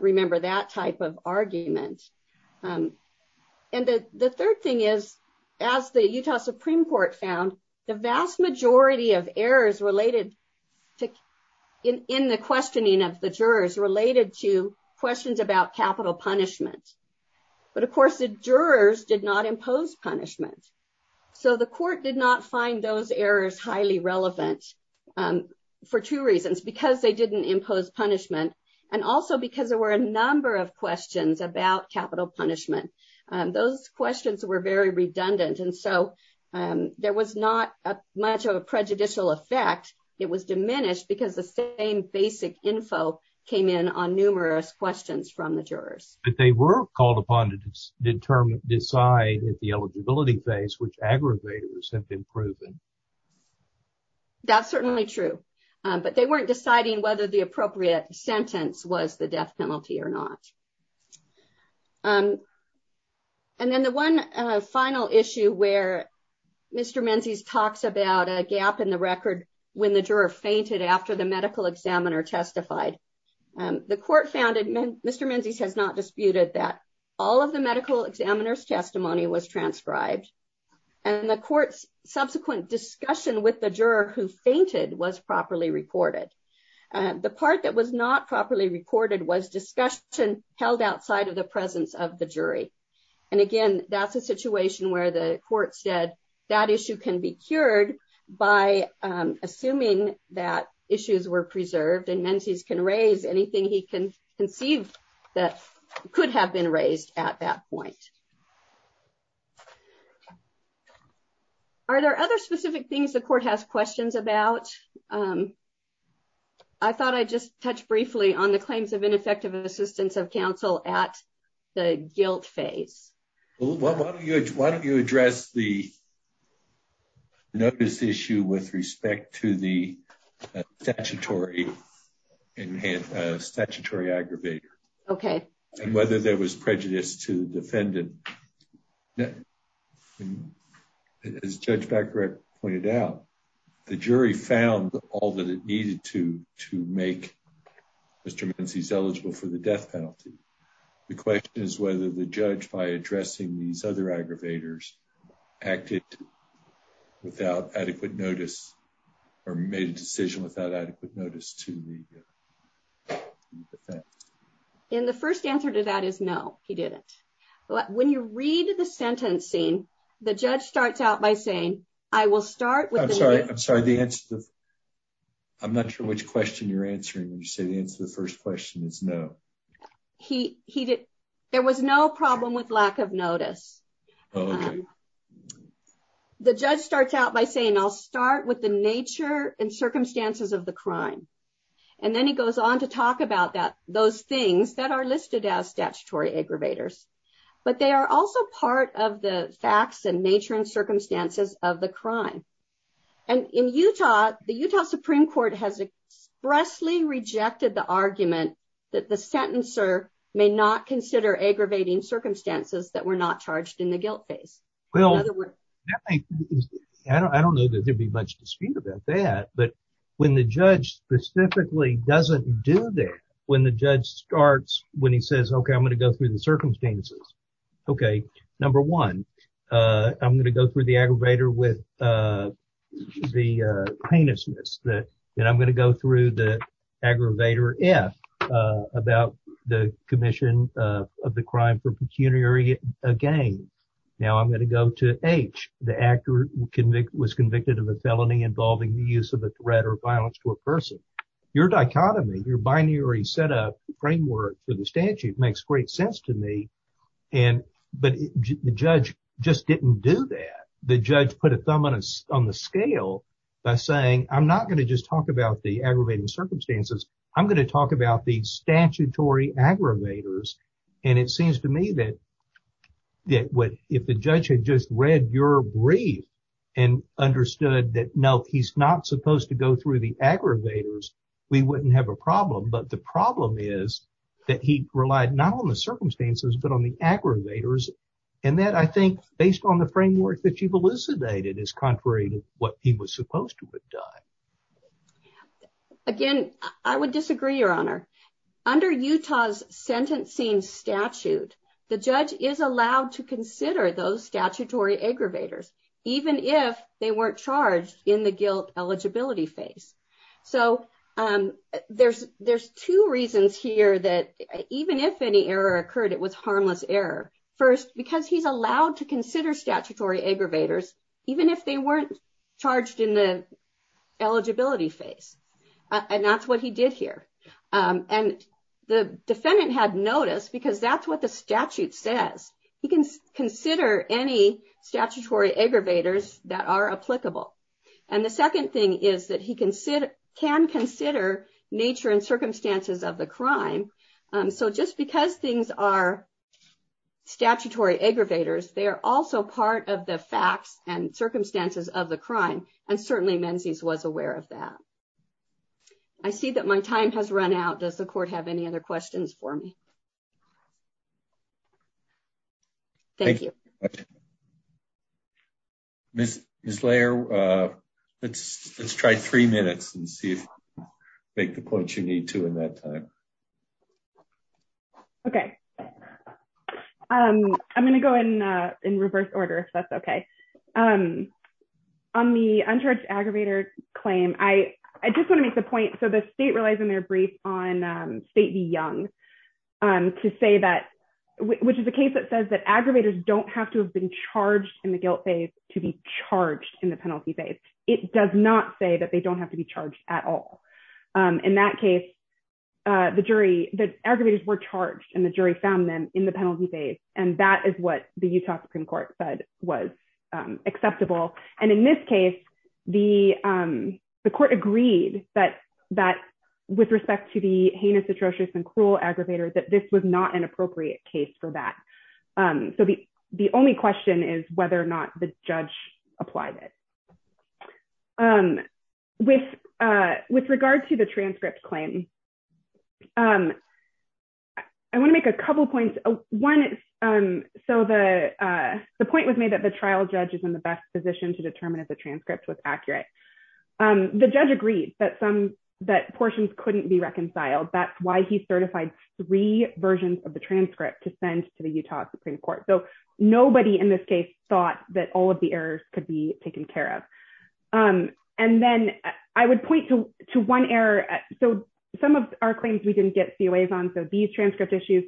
remember that type of argument. The third thing is, as the Utah Supreme Court found, the vast majority of errors in the questioning of the jurors related to questions about capital punishment. Of course, the jurors did not impose punishment. The court did not find those errors highly relevant for two reasons. Because they didn't impose punishment, and also because there were a number of questions about capital punishment. Those questions were very redundant, and so there was not much of a prejudicial effect. It was diminished because the same basic info came in on numerous questions from the jurors. But they were called upon to decide at the eligibility phase which aggravators have been proven. That's certainly true, but they weren't deciding whether the jurors were guilty or not. And then the one final issue where Mr. Mendez talks about a gap in the record when the juror fainted after the medical examiner testified. The court found, and Mr. Mendez has not disputed that, all of the medical examiner's testimony was transcribed, and the court's subsequent discussion with the juror who fainted was properly reported. The part that was not properly recorded was discussion held outside of the presence of the jury. And again, that's a situation where the court said that issue can be cured by assuming that issues were preserved, and Mendez can raise anything he can conceive that could have been raised at that point. Are there other specific things the court has questions about? I thought I'd just touch briefly on the claims of ineffective assistance of counsel at the guilt phase. Why don't you address the notice issue with respect to the statutory aggravator? Okay. And whether there was prejudice to the defendant. As Judge Becker pointed out, the jury found all that it needed to to make Mr. Mendez eligible for the death penalty. The question is whether the judge, by addressing these other aggravators, acted without adequate notice or made a decision without adequate notice to the defendant. And the first answer to that is no, he didn't. When you read the sentencing, the judge starts out by saying, I will start with... I'm sorry, I'm not sure which question you're answering. You say the answer to the first question is no. There was no problem with lack of notice. The judge starts out by saying, I'll start with the nature and circumstances of the crime. And then he goes on to talk about those things that are listed as statutory aggravators. But they are also part of the facts and nature and circumstances of the crime. And in Utah, the Utah Supreme Court has expressly rejected the argument that the sentencer may not consider aggravating circumstances that were not charged in the guilt phase. I don't know that there'd much dispute about that. But when the judge specifically doesn't do that, when the judge starts, when he says, okay, I'm going to go through the circumstances. Okay, number one, I'm going to go through the aggravator with the heinousness. Then I'm going to go through the aggravator F about the commission of the crime for pecuniary gain. Now I'm going to go to H, the actor was convicted of a felony involving the use of a threat or violence to a person. Your dichotomy, your binary setup framework to the statute makes great sense to me. And, but the judge just didn't do that. The judge put a thumb on the scale by saying, I'm not going to just talk about the aggravated circumstances. I'm going to talk about the and understood that no, he's not supposed to go through the aggravators. We wouldn't have a problem, but the problem is that he relied not on the circumstances, but on the aggravators. And that I think based on the framework that you've elucidated is contrary to what he was supposed to have done. Again, I would disagree your honor under Utah's sentencing statute. The judge is allowed to consider those statutory aggravators, even if they weren't charged in the guilt eligibility phase. So there's two reasons here that even if any error occurred, it was harmless error first, because he's allowed to consider statutory aggravators, even if they weren't charged in the eligibility phase. And that's what he did here. And the that's what the statute says. He can consider any statutory aggravators that are applicable. And the second thing is that he can consider nature and circumstances of the crime. So just because things are statutory aggravators, they're also part of the facts and circumstances of the crime. And certainly Menzies was aware of that. I see that my time has run out. Does the court have any other questions for me? Thank you. Ms. Slayer, let's try three minutes and see if you make the points you need to in that time. Okay. I'm going to go in reverse order if that's okay. On the uncharged aggravator claim, I just want to say that, which is a case that says that aggravators don't have to have been charged in the guilt phase to be charged in the penalty phase. It does not say that they don't have to be charged at all. In that case, the jury, the aggravators were charged and the jury found them in the penalty phase. And that is what the Utah Supreme Court said was acceptable. And in this case, the court agreed that with respect to the heinous, atrocious and cruel aggravators, that this was not an appropriate case for that. So the only question is whether or not the judge applied it. With regard to the transcript claim, I want to make a couple of points. One, so the point was made that the trial judge is in the best position to determine if the transcript was accurate. The judge agreed that portions couldn't be reconciled. That's why he certified three versions of the transcript to send to the Utah Supreme Court. So nobody in this case thought that all of the errors could be taken care of. And then I would point to one error. So some of our claims we didn't get COAs on, so these transcript issues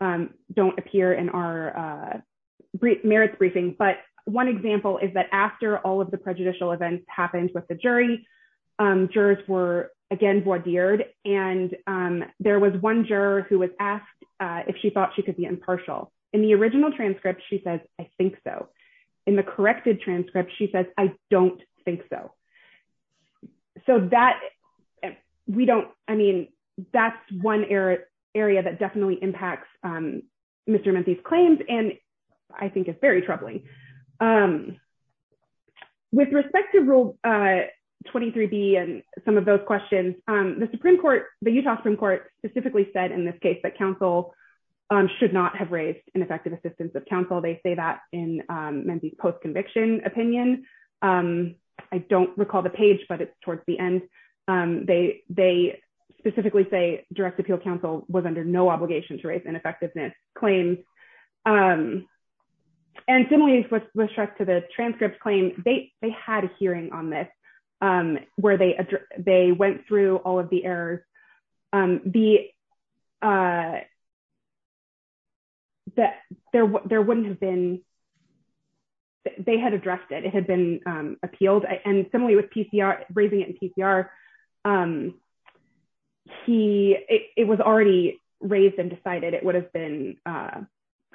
don't appear in our merits briefing. But one example is that after all of the prejudicial events happened with the jury, jurors were again voir dired. And there was one juror who was asked if she thought she could be impartial. In the original transcript, she said, I think so. In the corrected transcript, she says, I don't think so. So that, we don't, I mean, that's one area that definitely impacts Mr. Troubling. With respect to Rule 23B and some of those questions, the Supreme Court, the Utah Supreme Court specifically said in this case that counsel should not have raised ineffective assistance of counsel. They say that in Mendee's post-conviction opinion. I don't recall the page, but it's towards the end. They specifically say direct appeal counsel was under no obligation to raise ineffectiveness claims. And similarly, with respect to the transcript claim, they had a hearing on this where they went through all of the errors. There wouldn't have been, they had addressed it. It had been appealed. And similarly with PCR, raising it in PCR, it was already raised and decided it would have been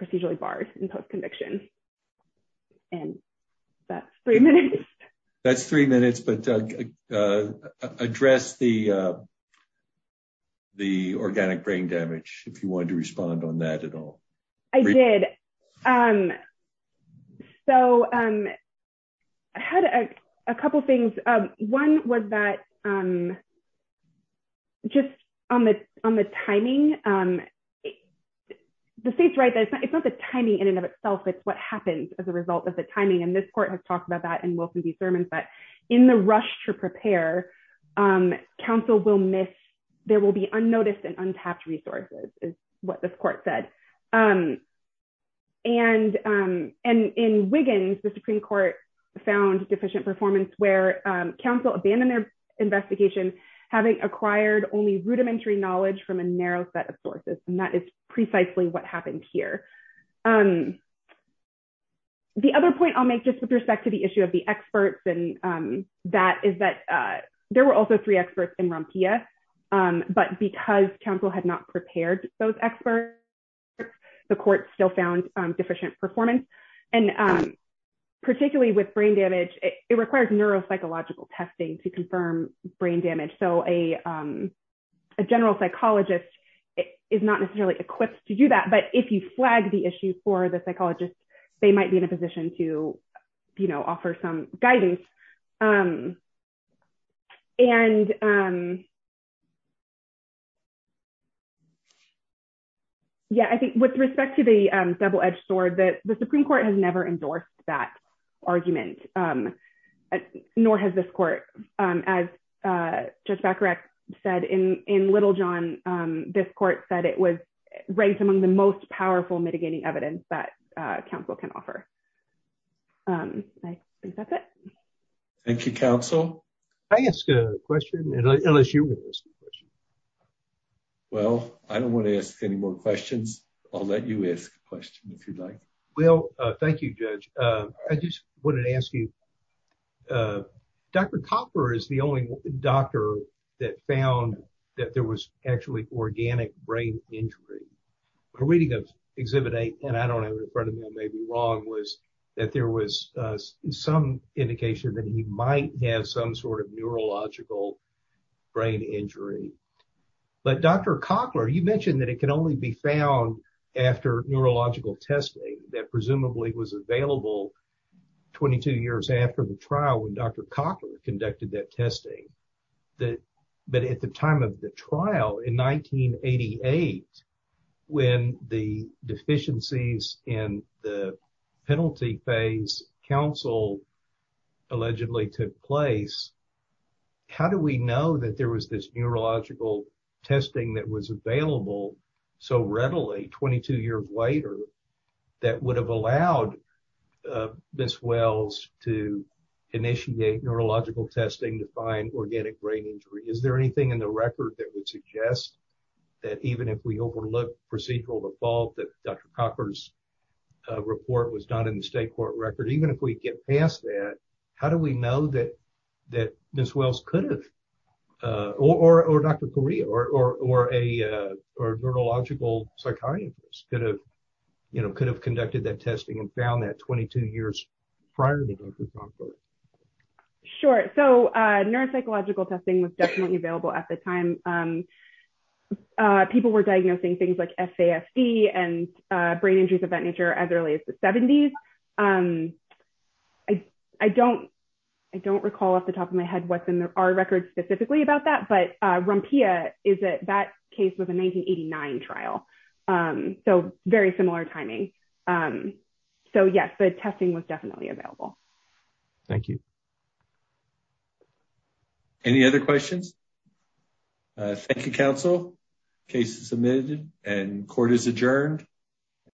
procedurally barred in post-conviction. And that's three minutes. That's three minutes, but address the organic brain damage, if you wanted to respond on that at all. I did. And so I had a couple of things. One was that just on the timing, the state's right that it's not the timing in and of itself, it's what happens as a result of the timing. And this court has talked about that in Wilson v. Thurman, but in the rush to prepare, counsel will miss, there will be unnoticed and untapped resources is what the court said. And in Wiggins, the Supreme Court found deficient performance where counsel abandoned their investigation, having acquired only rudimentary knowledge from a narrow set of sources. And that is precisely what happened here. The other point I'll make just with respect to the issue of the experts and that is that there were also three experts in Rompea, but because counsel had not prepared those experts, the court still found deficient performance. And particularly with brain damage, it requires neuropsychological testing to confirm brain damage. So a general psychologist is not necessarily equipped to do that, but if you flag the issue for the psychologist, they might be in a position to offer some guidance. And I think with respect to the double-edged sword, the Supreme Court has never endorsed that argument, nor has this court. As Judge Bakarek said in Littlejohn, this court said it was among the most powerful mitigating evidence that counsel can offer. I think that's it. Thank you, counsel. Can I ask a question? Unless you want to ask a question. Well, I don't want to ask any more questions. I'll let you ask a question if you'd like. Well, thank you, Judge. I just wanted to ask you, Dr. Copper is the only doctor that found that there was actually organic brain injury. A reading of Exhibit A, and I don't have it in front of me, I may be wrong, was that there was some indication that he might have some sort of neurological brain injury. But Dr. Cochler, you mentioned that it can only be found after neurological testing that presumably was available 22 years after the trial when Dr. Cochler conducted that testing. But at the time of the trial in 1988, when the deficiencies in the penalty phase counsel allegedly took place, how do we know that there was this neurological testing that was available so readily 22 years later that would have allowed Ms. Wells to initiate neurological testing to find organic brain injury? Is there anything in the record that would suggest that even if we overlook procedural default that Dr. Cochler's report was done in the state court record, even if we get past that, how do we know that Ms. Wells could have, or Dr. Correa, or a neurological psychiatrist could have conducted that testing found at 22 years prior to Dr. Cochler? Sure. So neuropsychological testing was definitely available at the time. People were diagnosing things like SASD and brain injuries of that nature as early as the 70s. I don't recall off the top of my head what's in our records specifically about that, but Rumpia is that that case was a 1989 trial. So very similar timing. So yes, the testing was definitely available. Thank you. Any other questions? Thank you, counsel. Case is submitted and court is adjourned.